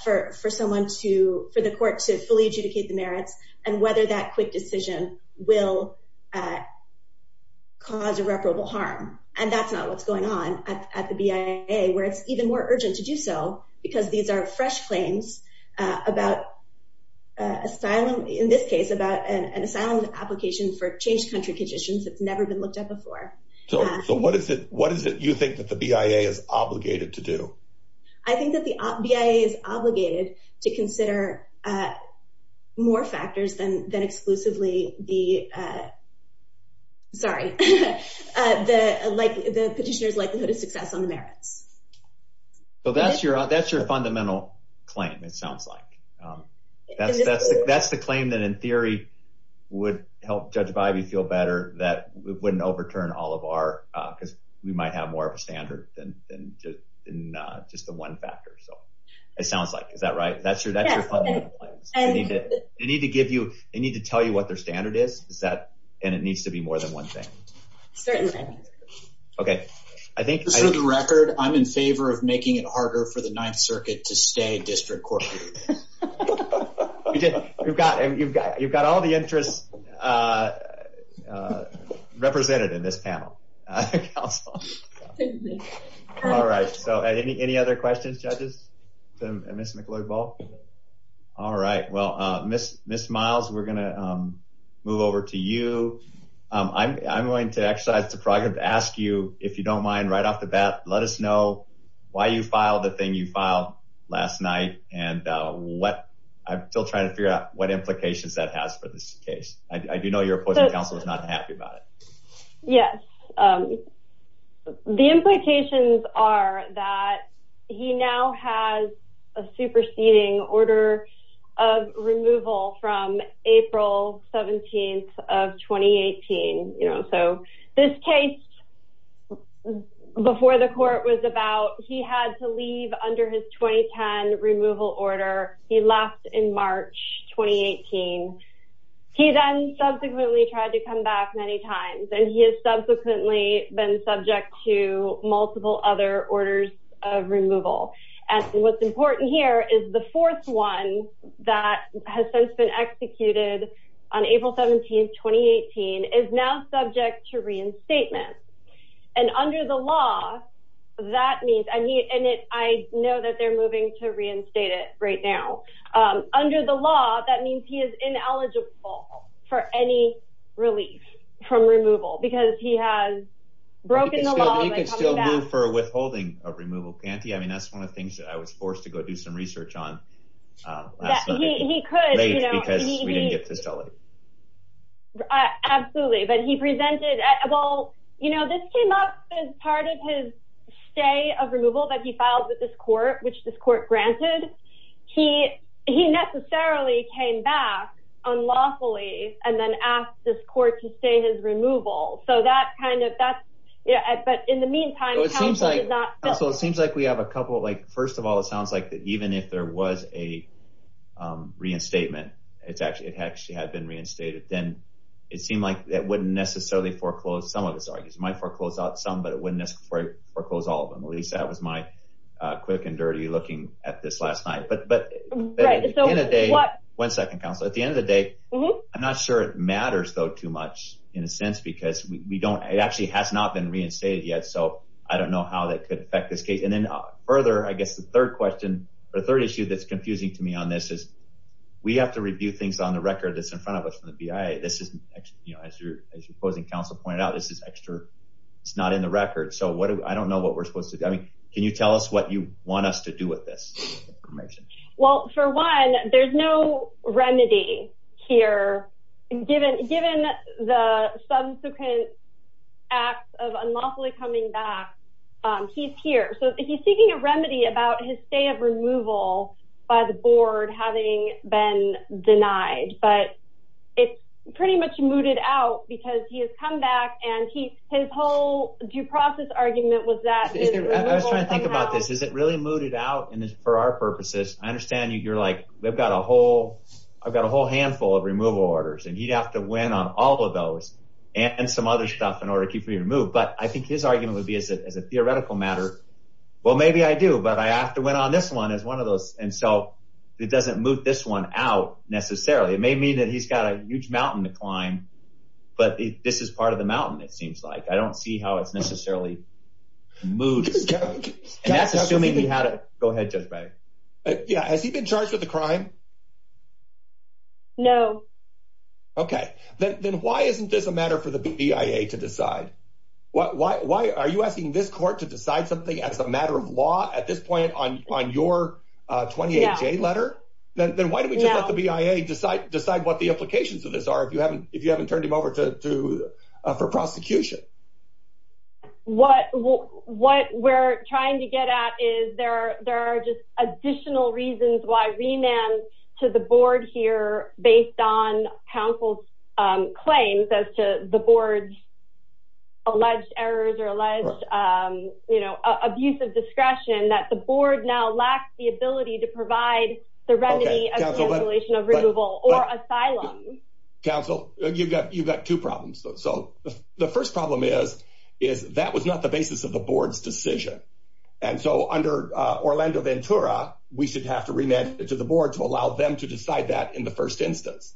for someone to, for the court to fully adjudicate the merits and whether that quick decision will cause irreparable harm. And that's not what's going on at the BIA where it's even more urgent to do so because these are fresh claims about asylum, in this case about an asylum application for changed country conditions that's never been looked at before. So, so what is it, what is it you think that the BIA is obligated to do? I think that the BIA is obligated to consider more factors than, than exclusively the, sorry, the, like the petitioner's likelihood of success on the merits. Well, that's your, that's your fundamental claim. It sounds like. That's the claim that in theory would help judge Vibey feel better that we wouldn't overturn all of our, because we might have more of a standard than just the one factor. So it sounds like, is that right? That's your, that's your fundamental claim. They need to give you, they need to tell you what their standard is. Is that, and it needs to be more than one thing. Okay. I think. For the record, I'm in favor of making it harder for the ninth circuit to stay district court. You've got, you've got, you've got all the interest. Represented in this panel. All right. So any, any other questions, judges? All right. Well, miss, miss miles, we're going to move over to you. I'm, I'm going to exercise the project to ask you, if you don't mind right off the bat, let us know why you filed the thing you filed last night. And what I'm still trying to figure out what implications that has for this case. I do know your appointment council is not happy about it. Yes. The implications are that he now has a superseding order of removal from April 17th of 2018. You know, so this case. Before the court was about, he had to leave under his 2010 removal order. He left in March, 2018. He then subsequently tried to come back many times and he has subsequently been subject to multiple other orders of removal. And what's important here is the fourth one that has since been executed on April 17th, 2018 is now subject to reinstatement. And under the law, that means I need it. I know that they're moving to reinstate it right now under the law. That means he is ineligible for any relief from removal because he has broken the law. For withholding of removal panty. I mean, that's one of the things that I was forced to go do some research on. Absolutely. But he presented, well, you know, this came up as part of his stay of removal that he filed with this court, which this court granted. He, he necessarily came back unlawfully and then asked this court to say his removal. So that kind of, that's yeah. But in the meantime, it seems like we have a couple of like, first of all, it sounds like that even if there was a reinstatement, it's actually, it actually had been reinstated. Then it seemed like that wouldn't necessarily foreclose some of the targets might foreclose out some, but it wouldn't necessarily foreclose all of them. Yeah. Yes. I will, I will, I will keep a close eye on that. the kind of thing that the police have with my quick and dirty looking at this last night. But, but. One second counselor, at the end of the day. I'm not sure it matters though too much in a sense because we don't, it actually has not been reinstated yet. So I don't know how that could affect this case. And then further, I guess the third question. The third issue that's confusing me on this is. We have to review things on the record. That's in front of us from the BIA. So I don't know what we're supposed to do. I mean, can you tell us what you want us to do with this? Well, for one, there's no remedy here. Given, given the subsequent. Acts of unlawfully coming back. He's here. So he's seeking a remedy about his stay of removal by the board, having been denied, but. It's pretty much mooted out because he has come back and he, his whole due process argument was that. I was trying to think about this. Is it really mooted out in this for our purposes? I understand you. You're like, they've got a whole. I've got a whole handful of removal orders and you'd have to win on all of those. And some other stuff in order to keep me removed. But I think his argument would be as a, as a theoretical matter. Well, maybe I do, but I asked to win on this one as one of those. And so it doesn't move this one out necessarily. It may mean that he's got a huge mountain to climb. But this is part of the mountain. It seems like, I don't see how it's necessarily. Move. Go ahead. Yeah. Has he been charged with a crime? No. Okay. Then why isn't this a matter for the BIA to decide? What, why, why are you asking this court to decide something as a matter of law at this point on, on your 28th day letter? Then why don't we just let the BIA decide, decide what the implications of this are. If you haven't, if you haven't turned him over to sue for prosecution. What. What we're trying to get at is there, There are just additional reasons. To the board here based on counsel. Claims as to the board. Alleged errors or alleged, you know, abuse of discretion that the board now lacks the ability to provide. The remedy. Of removal or asylum. Council you've got, you've got two problems. So. The first problem is, is that was not the basis of the board's decision. And so under Orlando Ventura, we should have to remit it to the board to allow them to decide that in the first instance.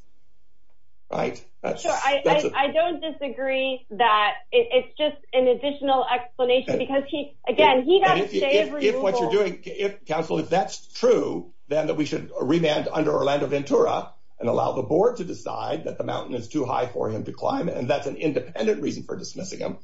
Right. I don't disagree that it's just an additional explanation because he, again, he. If what you're doing, if counsel, if that's true, then that we should remand under Orlando Ventura. And allow the board to decide that the mountain is too high for him to climb. And that's an independent reason for dismissing him.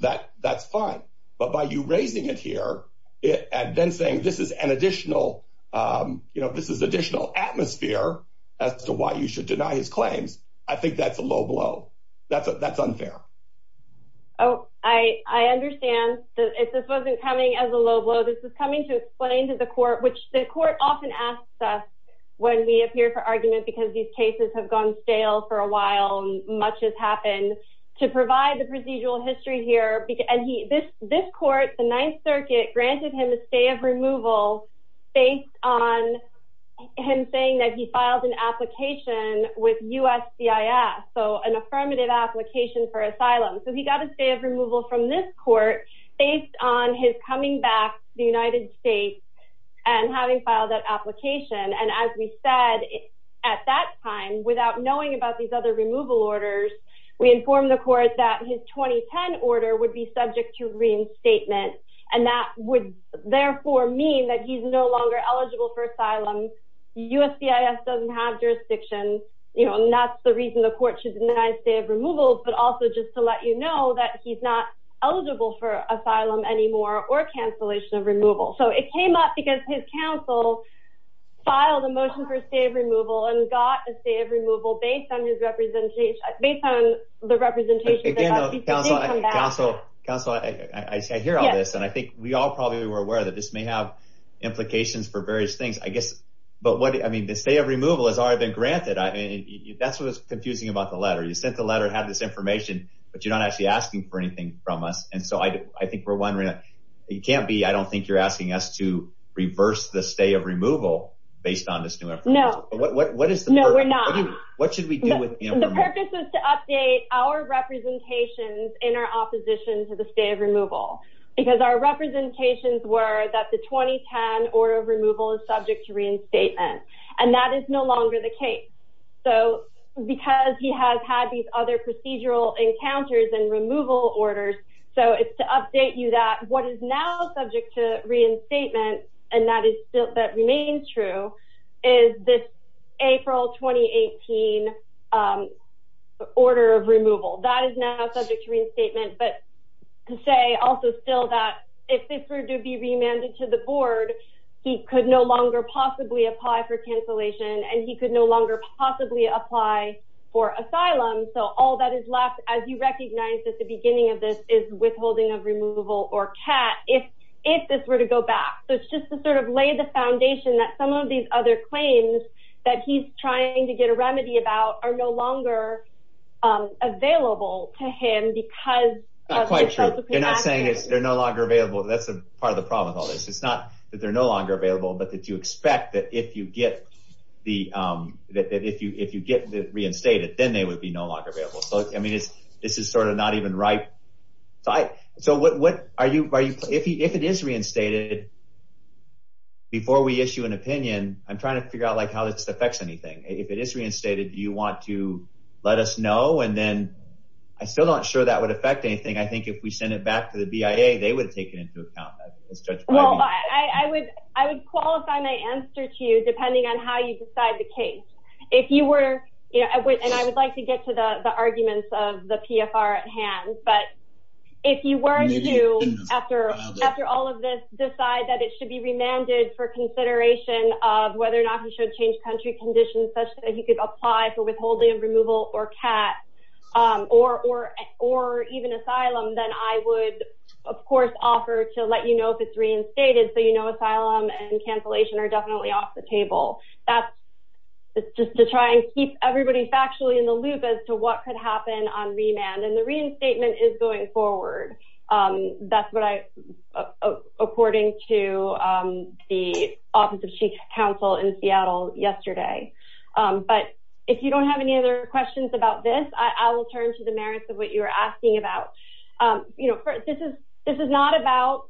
That that's fine. But by you raising it here. And then saying, this is an additional, you know, this is additional atmosphere. As to why you should deny his claim. I think that's a low blow. That's unfair. Oh, I, I understand. If this wasn't coming as a low blow, this is coming to explain to the court, which the court often asks us. When we appear for argument, because these cases have gone stale for a while. Much has happened to provide the procedural history here. And the court has asked us to make the case. And the court, and he, this, this court, the ninth circuit granted him a stay of removal. Based on. Him saying that he filed an application with us. So an affirmative application for asylum. So he got a stay of removal from this court. I think that's a low blow. I think that's a low blow. Based on his coming back to the United States. And having filed that application. And as we said. At that time, without knowing about these other removal orders, we informed the court that his 2010 order would be subject to reinstatement. And that would therefore mean that he's no longer eligible for asylum. And that's the reason the court should deny stay of removal, but also just to let you know that he's not eligible for asylum anymore or cancellation of removal. So it came up because his counsel. Filed a motion for a stay of removal and got a stay of removal based on his representation. Based on the representation. Counsel. I hear all this and I think we all probably were aware that this may have. Implications for various things. I guess. I mean, the state of removal has already been granted. That's what was confusing about the letter. You sent the letter and have this information, but you're not actually asking for anything from us. And so I think we're wondering. It can't be. I don't think you're asking us to reverse the stay of removal. Based on this. No. What is the. No, we're not. What should we do with. Okay. The purpose is to update our representations in our opposition to the state of removal. Because our representations were that the 2010 or removal is subject to reinstatement and that is no longer the case. So because he has had these other procedural encounters and removal orders. So it's to update you that what is now subject to reinstatement. And that is still, that remains true. Is this. April 2018. Order of removal that is now subject to reinstatement, but. To say also still that if this were to be remanded to the board. It's just to sort of lay the foundation that some of these other claims that he's trying to get a remedy about are no longer. Available to him because. I'm not quite sure. They're not saying they're no longer available. That's part of the problem. It's not that they're no longer available, but that you expect that if you get the, that, that if you, if you get reinstated, then they would be no longer available. I mean, it's just sort of not even right. So what are you, are you, if he, if it is reinstated. Before we issue an opinion, I'm trying to figure out like how this affects anything. If it is reinstated, do you want to let us know? And then. I'm still not sure that would affect anything. I think if we send it back to the BIA, they would take it into account. I would, I would qualify my answer to you, depending on how you decide the case. If you were. Yeah. And I would like to get to the arguments of the PFR at hand, but. If you were to, after, after all of this, decide that it should be remanded for consideration of whether or not you should change country conditions, such as you could apply for withholding of removal or cat. Or, or, or even asylum, then I would. Of course offer to let you know if it's reinstated. So, you know, asylum and cancellation are definitely off the table. That's. It's just to try and keep everybody's actually in the loop as to what could happen on remand and the reinstatement is going forward. That's what I. According to the office of chief counsel in Seattle yesterday. But if you don't have any other questions about this, I will turn to the merits of what you were asking about. You know, this is, this is not about.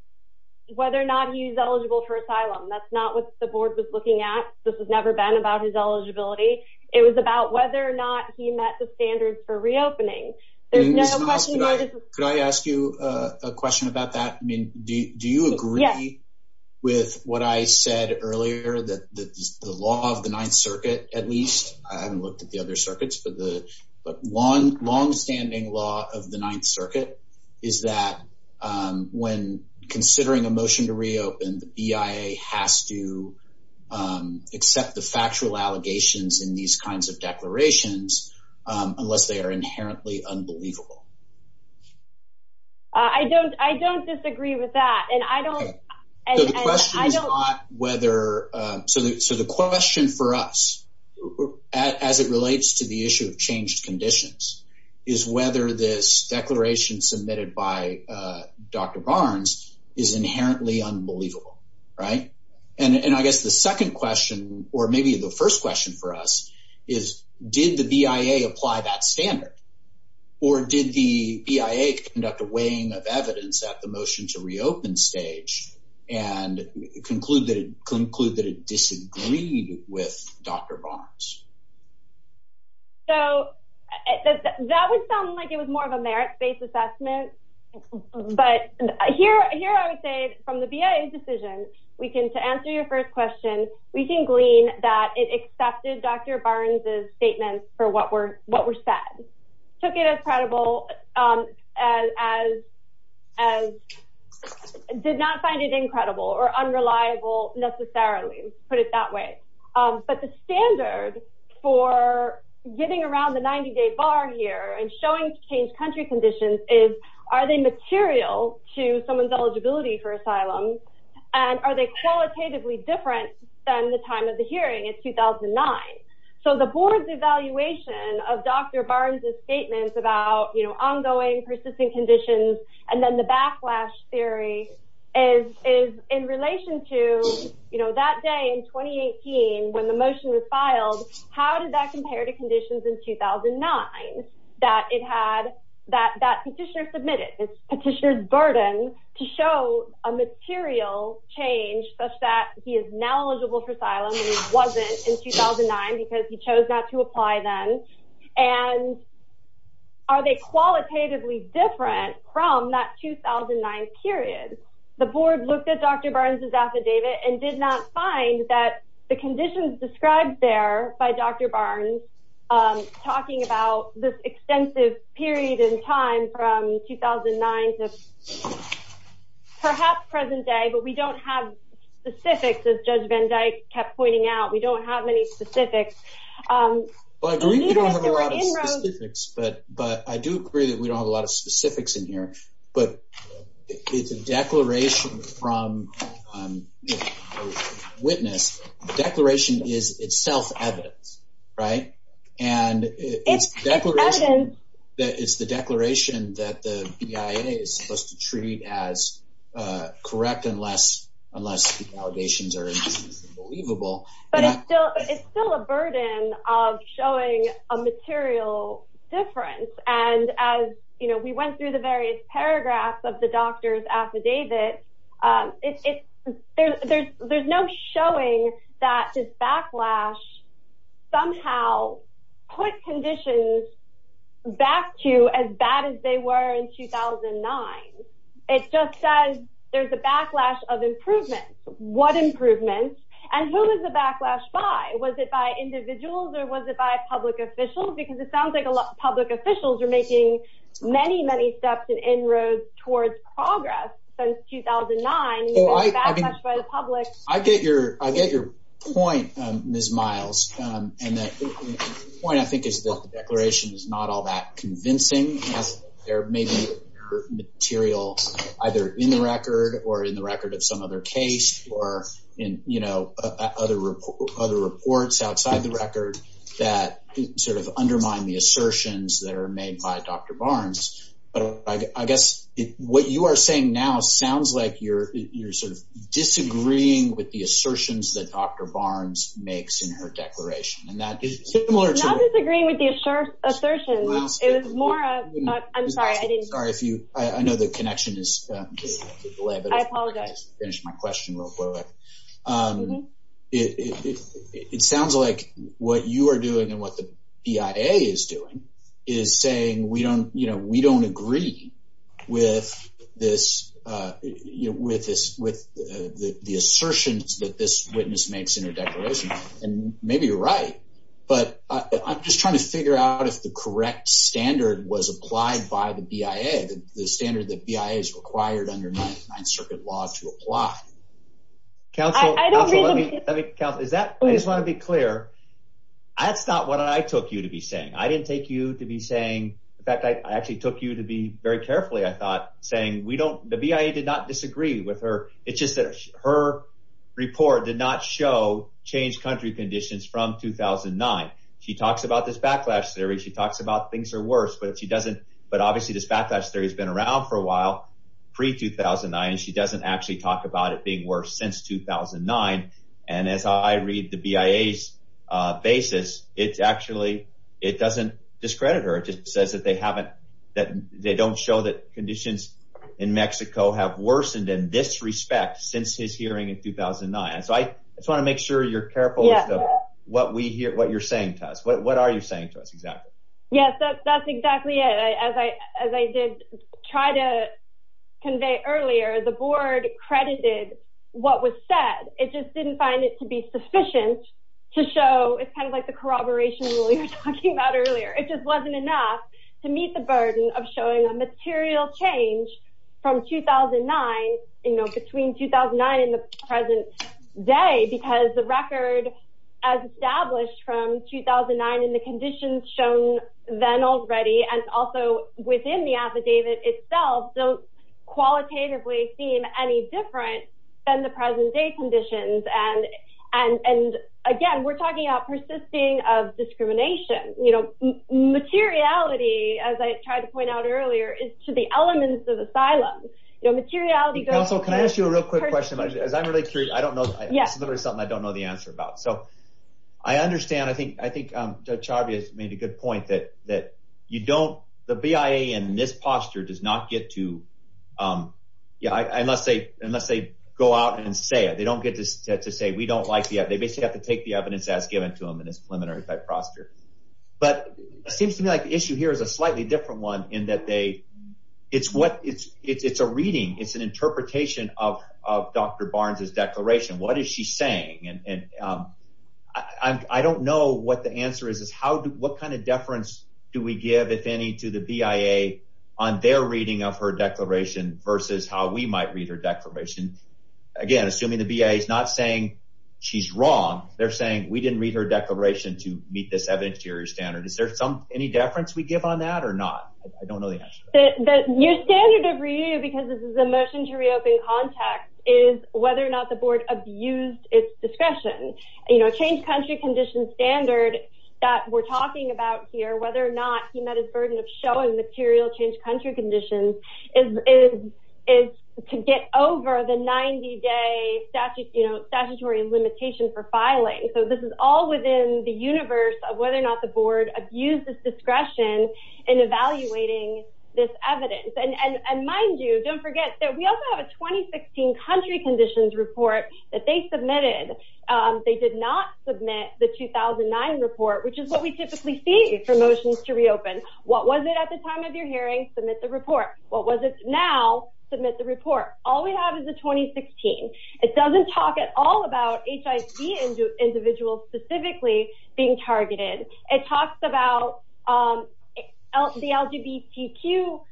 Whether or not he's eligible for asylum. That's not what the board was looking at. This has never been about his eligibility. It was about whether or not he met the standards for reopening. There's no question. Could I ask you a question about that? Do you agree? With what I said earlier that the law of the ninth circuit, at least. I haven't looked at the other circuits, but the. But one longstanding law of the ninth circuit. Is that when considering a motion to reopen EIA has to. Accept the factual allegations in these kinds of declarations. Unless they are inherently unbelievable. I don't, I don't disagree with that. And I don't. I don't know whether. So the question for us. As it relates to the issue of changed conditions. Is whether this declaration submitted by. Dr. Barnes is inherently unbelievable. Right. And I guess the second question, or maybe the first question for us. Is did the BIA apply that standard? Or did the EIA conduct a weighing of evidence at the motion to reopen stage? And concluded concluded disagreed with Dr. Barnes. So. That would sound like it was more of a merit based assessment. But here, here, I would say from the BIA decision. We can to answer your first question. We can glean that it accepted Dr. Barnes's statements for what we're, what we're sad. Took it as credible. As. As. Did not find it incredible or unreliable necessarily put it that way. But the standard for getting around the 90 day bar here and showing change country conditions is, are they material to someone's eligibility for asylum? And are they qualitatively different than the time of the hearing in 2009? So the board's evaluation of Dr. Barnes's statements about ongoing persistent conditions. And then the backlash theory. Is, is in relation to, you know, that day in 2018, when the motion was filed, how did that compare to conditions in 2009? That it had that, that petitioner submitted petitioners burden to show a material change, such that he is now eligible for asylum wasn't in 2009, because he chose not to apply them. And. Are they qualitatively different from that 2009 period? The board looked at Dr. Barnes's affidavit and did not find that the conditions described there by Dr. Barnes, talking about this extensive period in time from 2009 to. Perhaps present day, but we don't have the specifics. As judge Van Dyke kept pointing out. We don't have any specifics. But I do agree that we don't have a lot of specifics in here, but it's a declaration from. Witness declaration is itself. Right. And. That is the declaration that the BIA is supposed to treat as. Correct. Unless, unless allegations are believable. But it's still, it's still a burden of showing a material difference. And as you know, we went through the various paragraphs of the doctor's affidavit. There's no showing that this backlash. Somehow. Quick condition. Back to as bad as they were in 2009. It just says there's a backlash of improvement. What improvements and who is the backlash by? Was it by individuals or was it by public officials? Because it sounds like a lot of public officials are making many, many steps and inroads towards progress since 2009. I get your, I get your point. Ms. Miles. And the point I think is the declaration is not all that convincing. There may be. Material. Either in the record or in the record of some other case or in, you know, Other other reports outside the record that sort of undermine the assertions that are made by Dr. Barnes. I guess what you are saying now sounds like you're, you're sort of disagreeing with the assertions that Dr. Barnes makes in her declaration. And that is similar to disagreeing with the assert assertion is more. I'm sorry, I didn't. Sorry. I know the connection is. I apologize. Finished my question real quick. It sounds like what you are doing and what the is doing is saying, we don't, you know, we don't agree. With this, with this, with the assertions that this witness makes in a declaration and maybe you're right, but I'm just trying to figure out if the correct standard was applied by the BIA, the standard that BIA is required under nine circuit law to apply. I don't really want to be clear. That's not what I took you to be saying. I didn't take you to be saying that. I actually took you to be very carefully. I thought saying we don't, the BIA did not disagree with her. It's just that her report did not show change country conditions from 2009. She talks about this backlash theory. She talks about things are worse, but she doesn't, but obviously this backlash theory has been around for a while. Pre 2009. She doesn't actually talk about it being worse since 2009. And as I read the BIA basis, it's actually, it doesn't discredit her. It just says that they haven't, that they don't show that conditions in Mexico have worsened in this respect since his hearing in 2009. So I just want to make sure you're careful what we hear, what you're saying to us, what are you saying to us? Yes, that's exactly it. As I, as I did try to convey earlier, the board credited what was said, it just didn't find it to be sufficient to show. It's kind of like the corroboration we were talking about earlier. It just wasn't enough to meet the burden of showing a material change from 2009, you know, between 2009 and the present day, because the record as established from 2009 and the conditions shown then already. And also within the affidavit itself don't qualitatively seem any different than the present day conditions. And, and, and again, we're talking about persisting of discrimination, you know, materiality, as I tried to point out earlier, it's to the elements of asylum, you know, materiality. Can I ask you a real quick question? I'm really curious. I don't know. It's literally something I don't know the answer about. So I understand. I think, I think Javier's made a good point that, that you don't, the BIA in this posture does not get to, yeah, I, I must say, unless they go out and say it, they don't get to say, we don't like the, they basically have to take the evidence that's given to them. And it's limited every type of proctor. But it seems to me like the issue here is a slightly different one in that they, it's what it's, it's a reading. It's an interpretation of Dr. Barnes's declaration. What is she saying? And, and I don't know what the answer is, is how, what kind of deference do we give if any, to the BIA on their reading of her declaration versus how we might read her declaration. Again, assuming the BIA is not saying she's wrong. They're saying we didn't read her declaration to meet this evidence- sharing standard. Is there some, any deference we give on that or not? I don't know. Your standard of review, because this is a motion to reopen context is whether or not the board abused its discretion, you know, change country condition standard that we're talking about here, whether or not he met his burden of showing material change country conditions is, is, is to get over the 90 day statute, you know, statutory limitation for filing. So this is all within the universe of whether or not the board abused its discretion in evaluating this evidence. And, and, and mind you, don't forget that we also have a 2016 country conditions report that they submitted. They did not submit the 2009 report, which is what we typically see for motions to reopen. What was it at the time of your hearing? Submit the report. What was it now? Submit the report. All we have is a 2016. It doesn't talk at all about HIC individuals specifically being targeted. It talks about the LGBTQ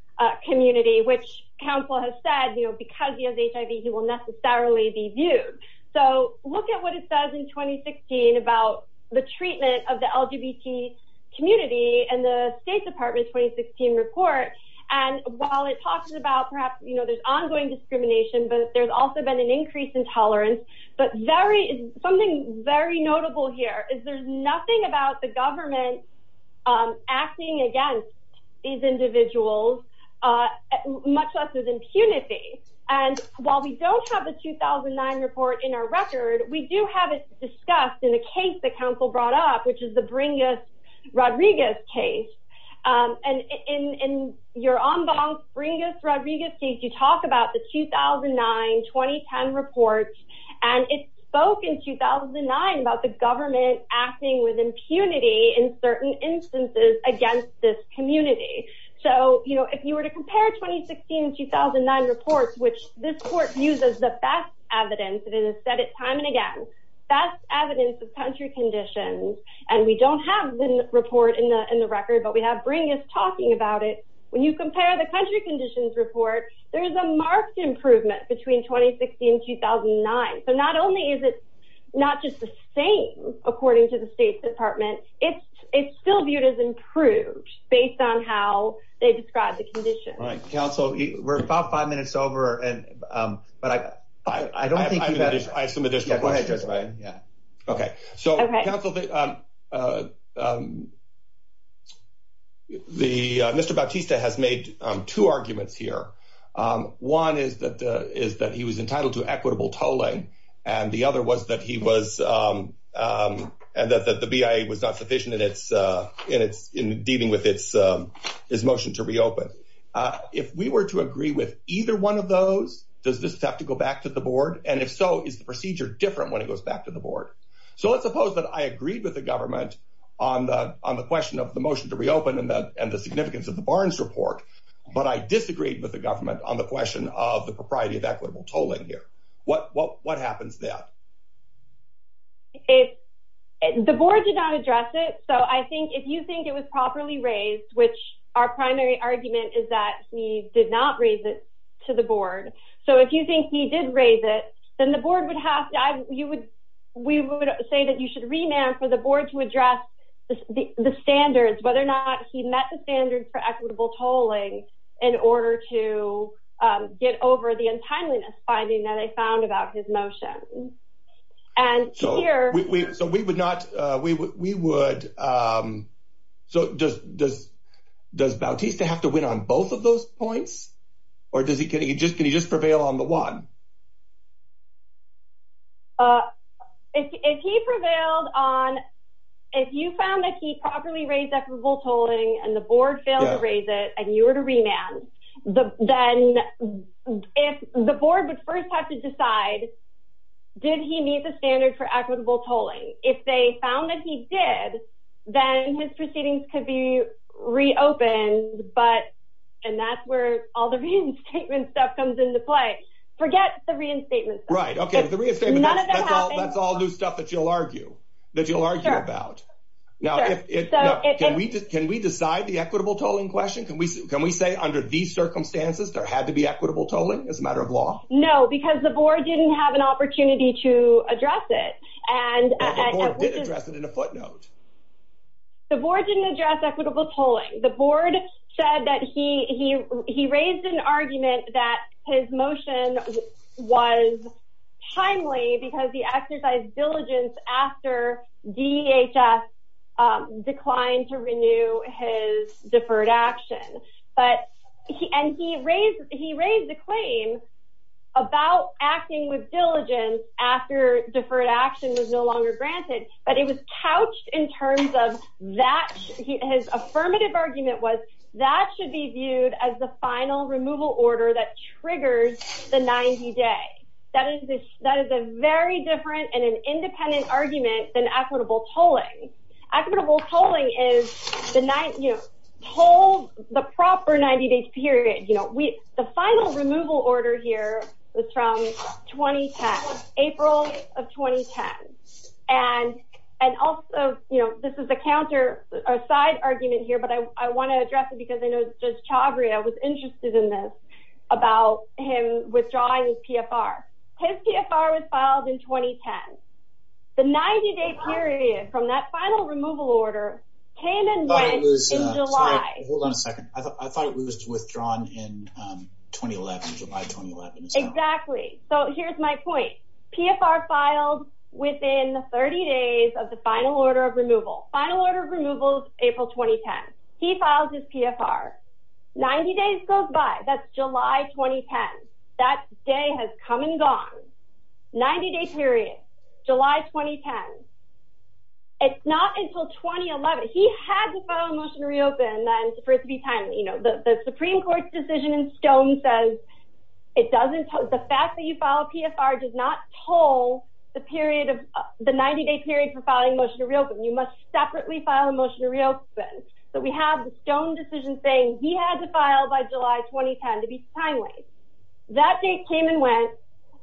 community, which counsel has said, you know, because you have HIV, you will necessarily be viewed. So look at what it says in 2016 about the treatment of the LGBT community and the state department 2016 report. And while it talks about perhaps, you know, there's ongoing discrimination, but there's also been an increase in tolerance, but very, something very notable here is there's nothing about the government. Acting against these individuals, much less with impunity. And while we don't have the 2009 report in our record, we do have it discussed in a case that counsel brought up, which is the bring us Rodriguez case. And in, in your on bond bring us Rodriguez. You talk about the 2009 2010 reports and it spoke in 2009 about the government acting with impunity in certain instances against this community. So, you know, if you were to compare 2016, 2009 reports, which this court uses the best evidence, and it has said it time and again, that's evidence of country conditions. And we don't have the report in the, in the record, but we have bringing this talking about it. When you compare the country conditions report, there is a marked improvement between 2016 and 2009. So not only is it not just the same, according to the state department, it's, it's still viewed as improved based on how they describe the condition. Right. So we're about five minutes over and, but I, I don't think. Okay. The Mr. Bautista has made two arguments here. One is that the, is that he was entitled to equitable tolling. And the other was that he was, and that the BIA was not sufficient in its, in its, in dealing with its, his motion to reopen. If we were to agree with either one of those, does this have to go back to the board? And if so, is the procedure different when it goes back to the board? So let's suppose that I agreed with the government on the, on the question of the motion to reopen and that, and the significance of the Barnes report. But I disagreed with the government on the question of the propriety of equitable tolling here. What, what, what happens now? The board did not address it. So I think if you think it was properly raised, which our primary argument is that we did not raise it to the board. So if you think he did raise it, then the board would have to, you would, we would say that you should remand for the board to address the standards, whether or not he met the standard for equitable tolling in order to get over the untimeliness finding that I found about his motion. So we would not, we would, we would. Does Bautista have to win on both of those points or does he, can he just prevail on the one? If he prevailed on, if you found that he properly raised equitable tolling and the board failed to raise it and you were to remand the, then if the board would first have to decide, did he meet the standard for equitable tolling? If they found that he did, then his proceedings could be reopened. But, and that's where all the reading statement stuff comes into play. Forget the reading statements. Right. Okay. That's all the stuff that you'll argue that you'll argue about. Can we just, can we decide the equitable tolling question? Can we, can we say under these circumstances, there had to be equitable tolling as a matter of law? No, because the board didn't have an opportunity to address it. The board didn't address equitable tolling. The board said that he, he, he raised an argument that his motion was timely because he exercised diligence after DHS declined to renew his deferred action. But he, and he raised, he raised the claim about acting with diligence after deferred action is no longer granted, but it was couched in terms of that. His affirmative argument was that should be viewed as the final removal order that triggers the 90 day. That is, that is a very different and an independent argument than equitable tolling. Equitable tolling is the nine, you know, hold the proper 90 days period. You know, we, the final removal order here was from 2010, April of 2010. And, and also, you know, this is a counter or side argument here, but I want to address it because I know Judge Chavria was interested in this about him withdrawing his PFR. His PFR was filed in 2010. The 90 day period from that final removal order came in July. Hold on a second. I thought it was withdrawn in 2011, July 2011. Exactly. So here's my point. PFR filed within the 30 days of the final order of removal, final order of removal, April, 2010, he filed his PFR 90 days goes by that's July, 2010. That day has come and gone 90 day period, July, 2010. It's not until 2011. He had to file a motion to reopen then for it to be time. You know, the Supreme court's decision in stone says it doesn't, the fact that you file a PFR does not toll the period of the 90 day period for filing motion to reopen. You must separately file a motion to reopen that we have the stone decision saying he has to file by July, 2010 to be timely. That date came and went,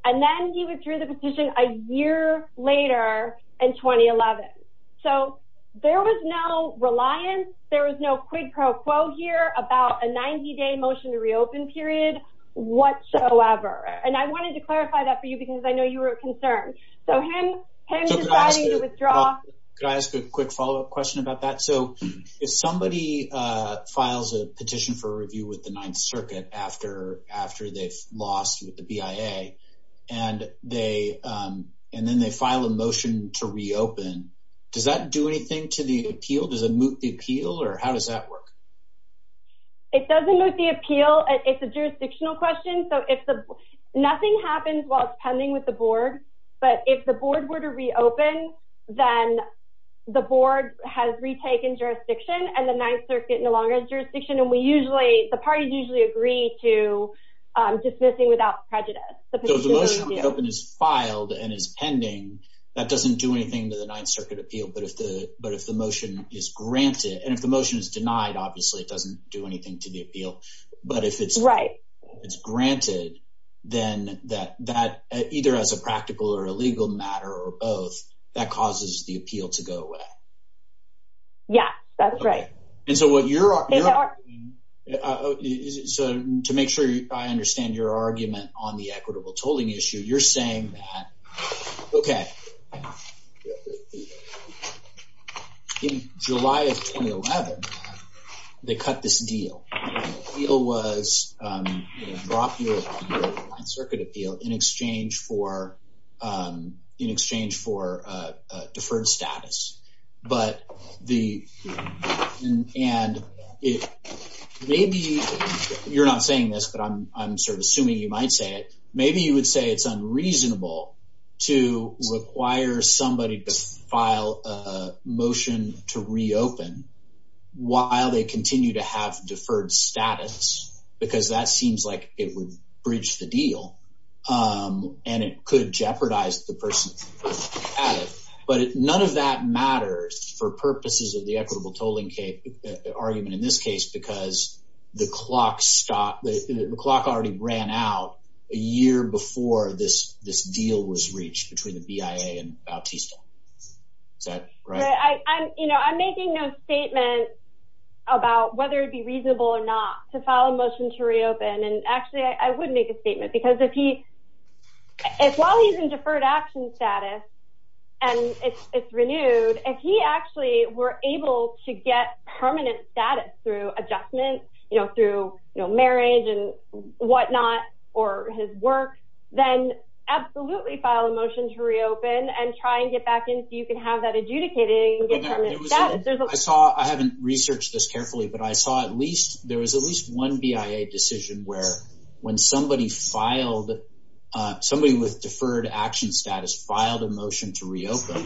and then he withdrew the position a year later in 2011. So there was no reliance. There was no quid pro quo here about a 90 day motion to reopen period whatsoever. And I wanted to clarify that for you because I know you were concerned. So him deciding to withdraw. Can I ask a quick follow up question about that? So if somebody files a petition for review with the ninth circuit after, after they lost with the BIA and they, and then they file a motion to reopen, does that do anything to the appeal? Does it moot the appeal or how does that work? It doesn't moot the appeal. It's a jurisdictional question. So if the nothing happens while it's pending with the board, but if the board were to reopen, then the board has retaken jurisdiction and the ninth circuit, no longer jurisdiction. And we usually, the parties usually agree to dismissing without prejudice. Open is filed and is pending. That doesn't do anything to the ninth circuit appeal, but if the, but if the motion is granted and if the motion is denied, obviously, it doesn't do anything to the appeal. But if it's right, it's granted then that, that either as a practical or a legal matter or both that causes the appeal to go away. Yeah, that's right. And so what you're, so to make sure I understand your argument on the equitable tolling issue, you're saying that, okay. Okay. In July of 2011, they cut this deal. It was brought here on circuit appeal in exchange for in exchange for a deferred status, but the, and it may be, you're not saying this, but I'm, I'm sort of assuming you might say it. Maybe you would say it's unreasonable to require somebody to file a motion to reopen while they continue to have deferred status, because that seems like it would breach the deal. And it could jeopardize the person at it, but none of that matters for purposes of the equitable tolling case argument in this case, because the clock stopped, the clock already ran out a year before this, this deal was reached between the BIA and Bautista. I'm, you know, I'm making a statement about whether it'd be reasonable or not to file a motion to reopen. And actually I would make a statement because if he, if while he's in deferred action status and it's renewed, if he actually were able to get permanent status through adjustment, you know, through marriage and whatnot, or his work, then absolutely file a motion to reopen and try and get back into, you can have that adjudicated. I saw, I haven't researched this carefully, but I saw at least, there was at least one BIA decision where when somebody filed, somebody with deferred action status filed a motion to reopen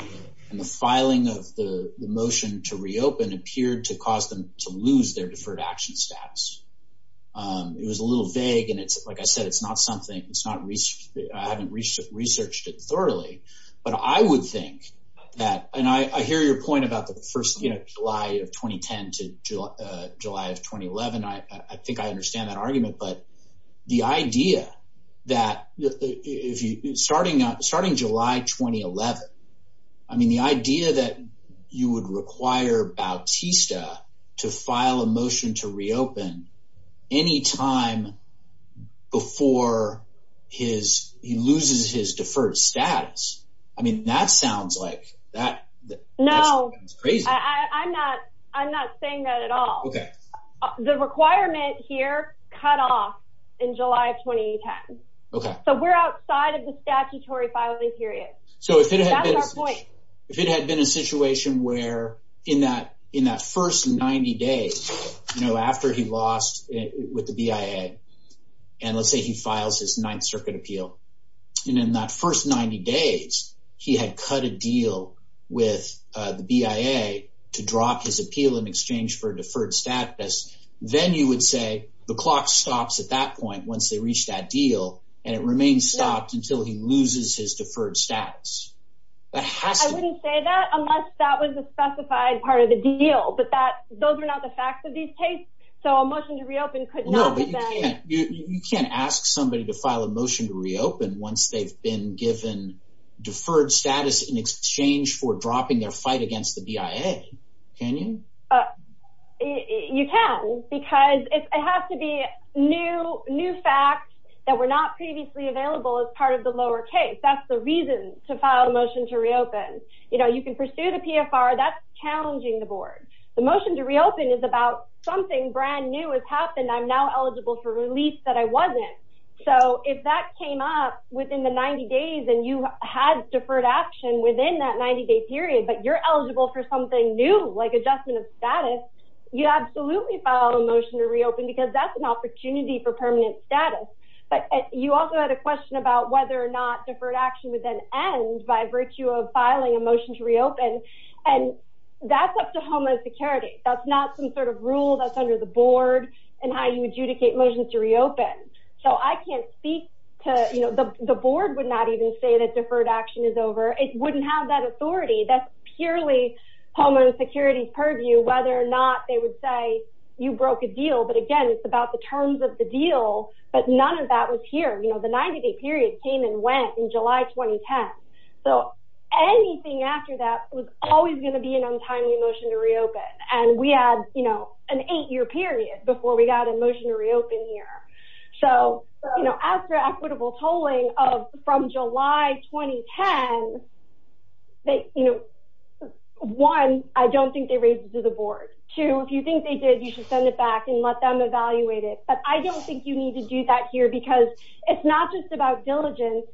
and the filing of the motion to reopen appeared to cause them to lose their deferred action status. It was a little vague. And it's like I said, it's not something, it's not reached. I haven't reached it, researched it thoroughly, but I would think that, and I hear your point about the first, you know, July of 2010 to July of 2011. I think I understand that argument, but the idea that if you, starting up, starting July, 2011, I mean, the idea that you would require Bautista to file a motion to reopen, any time before his, he loses his deferred status. I mean, that sounds like that. No, I'm not, I'm not saying that at all. Okay. The requirement here cut off in July of 2010. Okay. So we're outside of the statutory filing period. So if it had been a situation where in that, in that first 90 days, you know, after he lost with the BIA and let's say he files his ninth circuit appeal, you know, in that first 90 days, he had cut a deal with the BIA to drop his appeal in exchange for deferred status. Then you would say the clock stops at that point, once they reached that deal and it remains stopped until he loses his deferred status. I wouldn't say that unless that was a specified part of the deal, but that, those are not the facts of these cases. So a motion to reopen. You can't ask somebody to file a motion to reopen once they've been given deferred status in exchange for dropping their fight against the BIA. You can, because it has to be new, new facts that were not previously available as part of the lower case. That's the reason to file a motion to reopen. You know, you can pursue the PFR that's challenging the board. The motion to reopen is about something brand new has happened. I'm now eligible for release that I wasn't. So if that came up within the 90 days and you had deferred action within that 90 day period, but you're eligible for something new, like adjustment of status, you absolutely file a motion to reopen because that's an opportunity for permanent status. But you also had a question about whether or not deferred action was an end by virtue of filing a motion to reopen. And that's up to Homeland Security. That's not some sort of rule that's under the board and how you adjudicate motions to reopen. So I can't speak to, you know, the board would not even say that deferred action is over. It wouldn't have that authority. That's purely Homeland Security purview whether or not they would say you broke a deal. But again, it's about the terms of the deal, but none of that was here. You know, the 90 day period came and went in July, 2010. So anything after that was always going to be an untimely motion to reopen. And we had, you know, an eight year period before we got a motion to reopen here. So, you know, after equitable tolling of, from July, 2010, they, you know, one, I don't think they raised it to the board. Two, if you think they did, you should send it back and let them evaluate it. But I don't think you need to do that here because it's not just about diligence.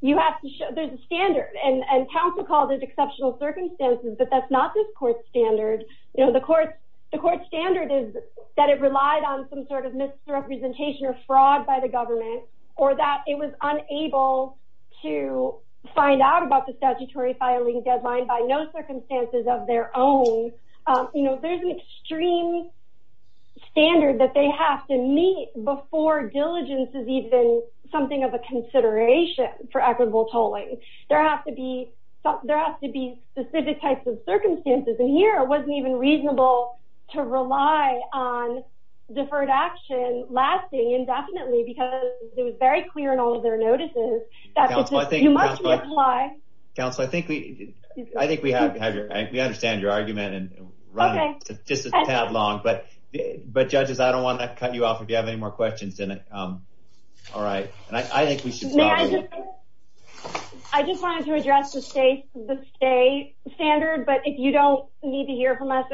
You have to show there's a standard. And council called it exceptional circumstances, but that's not this court standard. You know, the court, the court standard is that it relied on some sort of misrepresentation or fraud by the government or that it was unable to find out about the statutory filing deadline by no circumstances of their own. You know, there's an extreme standard that they have to meet before diligence is even something of a consideration for equitable tolling. There has to be specific types of circumstances. And here it wasn't even reasonable to rely on deferred action lasting indefinitely because it was very clear in all of their notices. Why? I think we, I think we have to have your, you understand your argument and it's just a tad long, but, but judges, I don't want to cut you off if you have any more questions in it. All right. I just wanted to address the state, the state standard, but if you don't need to hear from us,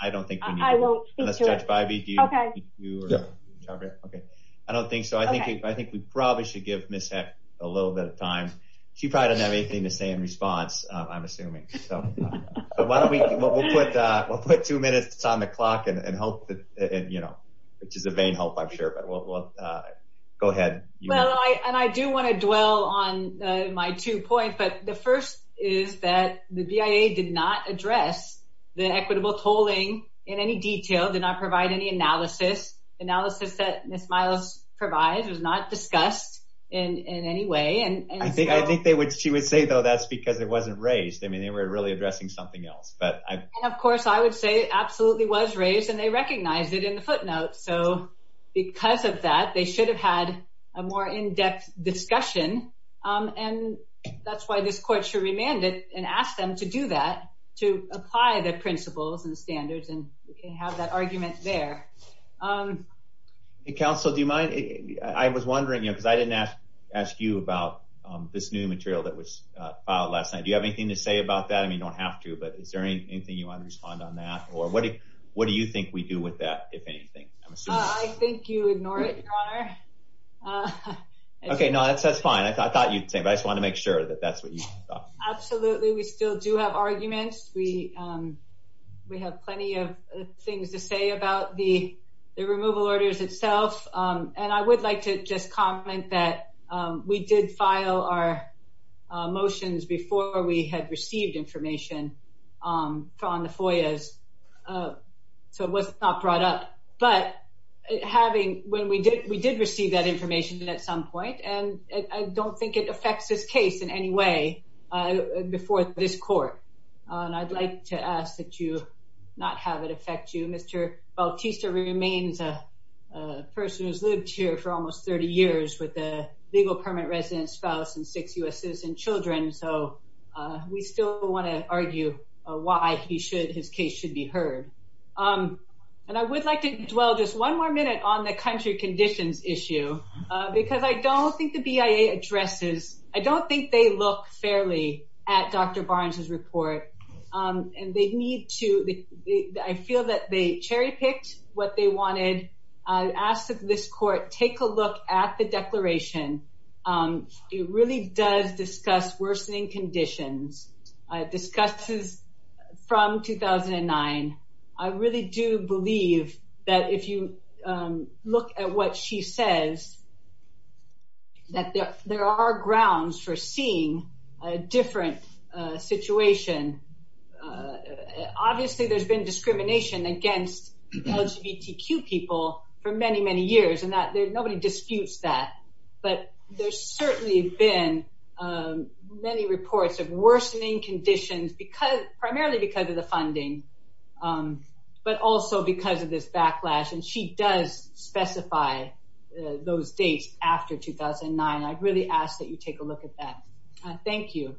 I don't think I won't. Okay. Okay. I don't think so. I think, I think we probably should give a little bit of time. She probably didn't have anything to say in response. I'm assuming. We'll put two minutes on the clock and hope that, and you know, which is a vague hope I'm sure, but we'll go ahead. And I do want to dwell on my two points, but the first is that the BIA did not address the equitable tolling in any detail, did not provide any analysis. Analysis that Ms. Miles provides is not discussed in any way. And I think they would, she would say though, that's because it wasn't raised. I mean, they were really addressing something else, but I, and of course, I would say it absolutely was raised and they recognized it in the footnotes. So because of that, they should have had a more in-depth discussion. And that's why this court should remand it and ask them to do that, to apply the principles and standards. And we can have that argument there. Counsel, do you mind? I was wondering, you know, cause I didn't ask you about this new material that was filed last night. Do you have anything to say about that? I mean, you don't have to, but is there anything you want to respond on that or what do you, what do you think we do with that? If anything, I think you ignore it. Okay. No, that's fine. I thought you'd say, but I just want to make sure that that's what you thought. Absolutely. We still do have arguments. We, we have plenty of things to say about the, the removal orders itself. And I would like to just comment that we did file our motions before we had received information from the foyers. So what's not brought up, but having, when we did, we did receive that information at some point, and I don't think it affects this case in any way. I would like to ask that you not have it affect you. Mr. Bautista remains a person who's lived here for almost 30 years with a legal permanent resident spouse and six US citizen children. So we still want to argue why he should, his case should be heard. And I would like to dwell just one more minute on the country conditions issue, because I don't think the BIA addresses, I don't think they look fairly at Dr. Barnes's report. And they need to, I feel that they cherry picked what they wanted. I asked this court, take a look at the declaration. It really does discuss worsening conditions. Discusses from 2009. I really do believe that if you look at what she says, that there are grounds for seeing a different situation. Obviously there's been discrimination against LGBTQ people for many, many years and that there's nobody disputes that, but there's certainly been many reports of worsening conditions because primarily because of the funding, but also because of this backlash. And she does specify those dates after 2009. I really ask that you take a look at that. Thank you.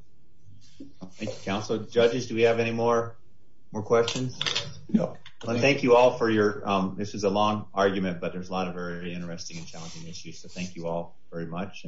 Counsel judges. Do we have any more, more questions? No. Thank you all for your, this is a long argument, but there's a lot of very interesting and challenging issues, but thank you all very much.